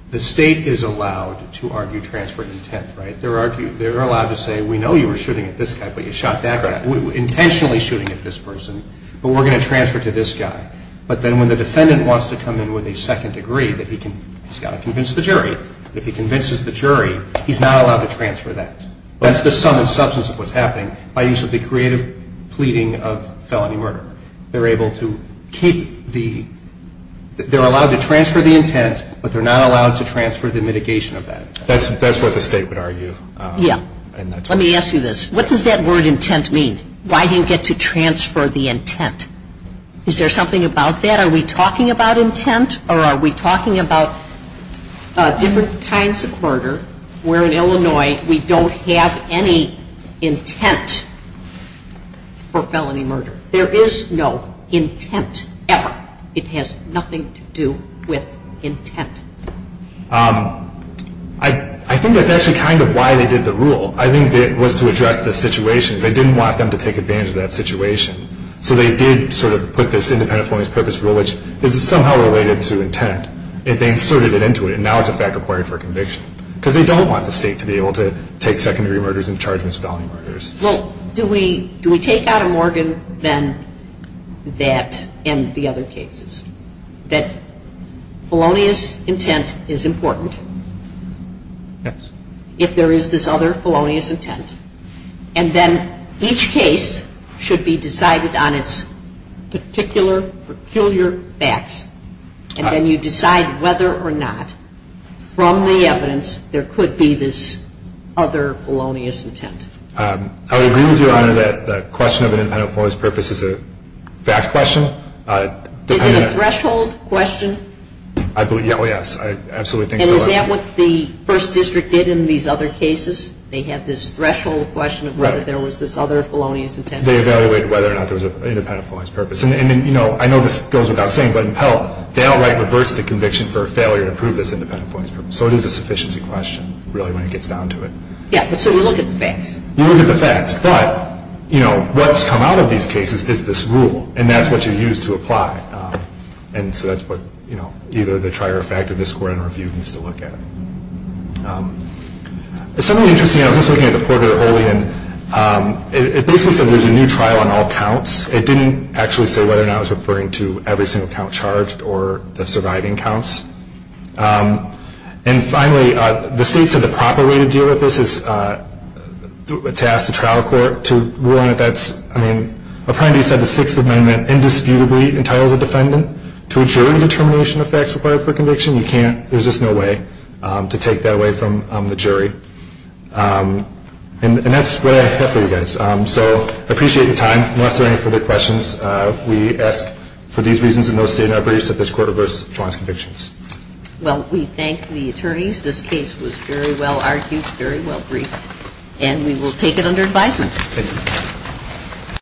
the state is allowed to argue transfer of intent, right? They're allowed to say we know you were shooting at this guy, but you shot that guy. We were intentionally shooting at this person, but we're going to transfer to this guy. But then when the defendant wants to come in with a second degree, he's got to convince the jury. If he convinces the jury, he's not allowed to transfer that. That's the sum of substance of what's happening by use of the creative pleading of felony murder. They're able to keep the, they're allowed to transfer the intent, but they're not allowed to transfer the mitigation of that intent. That's what the state would argue. Yeah. Let me ask you this. What does that word intent mean? Why do you get to transfer the intent? Is there something about that? Are we talking about intent or are we talking about different kinds of murder? We're in Illinois. We don't have any intent for felony murder. There is no intent ever. It has nothing to do with intent. I think that's actually kind of why they did the rule. I think it was to address the situation. They didn't want them to take advantage of that situation. So they did sort of put this independent form of this purpose rule, which is somehow related to intent. And they inserted it into it. And now it's back reported for conviction. Because they don't want the state to be able to take second-degree murders and charge them as felony murders. Well, do we take out of Morgan then that and the other cases, that felonious intent is important? Yes. If there is this other felonious intent. And then each case should be decided on its particular, peculiar facts. And then you decide whether or not, from the evidence, there could be this other felonious intent. I agree with you, Your Honor, that the question of an independent form of this purpose is a vast question. Is it a threshold question? Oh, yes. I absolutely think so. And is that what the First District did in these other cases? They have this threshold question of whether there was this other felonious intent. They evaluate whether or not there was an independent form of this purpose. And, you know, I know this goes without saying, but in Pell, they don't write reverse the conviction for a failure to prove this independent form of this purpose. So it is a sufficiency question, really, when it gets down to it. Yes. So you look at the facts. You look at the facts. But, you know, what's come out of these cases is this rule. And that's what you use to apply. And so that's what, you know, either the trier or fact of this Court in our view needs to look at. It's something interesting. I was just looking at the Porter-Olein. It basically said there's a new trial on all counts. It didn't actually say whether or not it was referring to every single count charged or the surviving counts. And, finally, the states have the proper way to deal with this is to ask the trial court to rule on it. I mean, Apprendi said the Sixth Amendment indisputably entitles a defendant to a jury determination of facts required for conviction. You can't. There's just no way to take that away from the jury. And that's what I have for you guys. So I appreciate your time. Unless there are any further questions, we ask for these reasons, and they'll stay in our briefs at this Court of those advanced convictions. Well, we thank the attorneys. This case was very well argued, very well briefed. And we will take it under advisement. Thank you.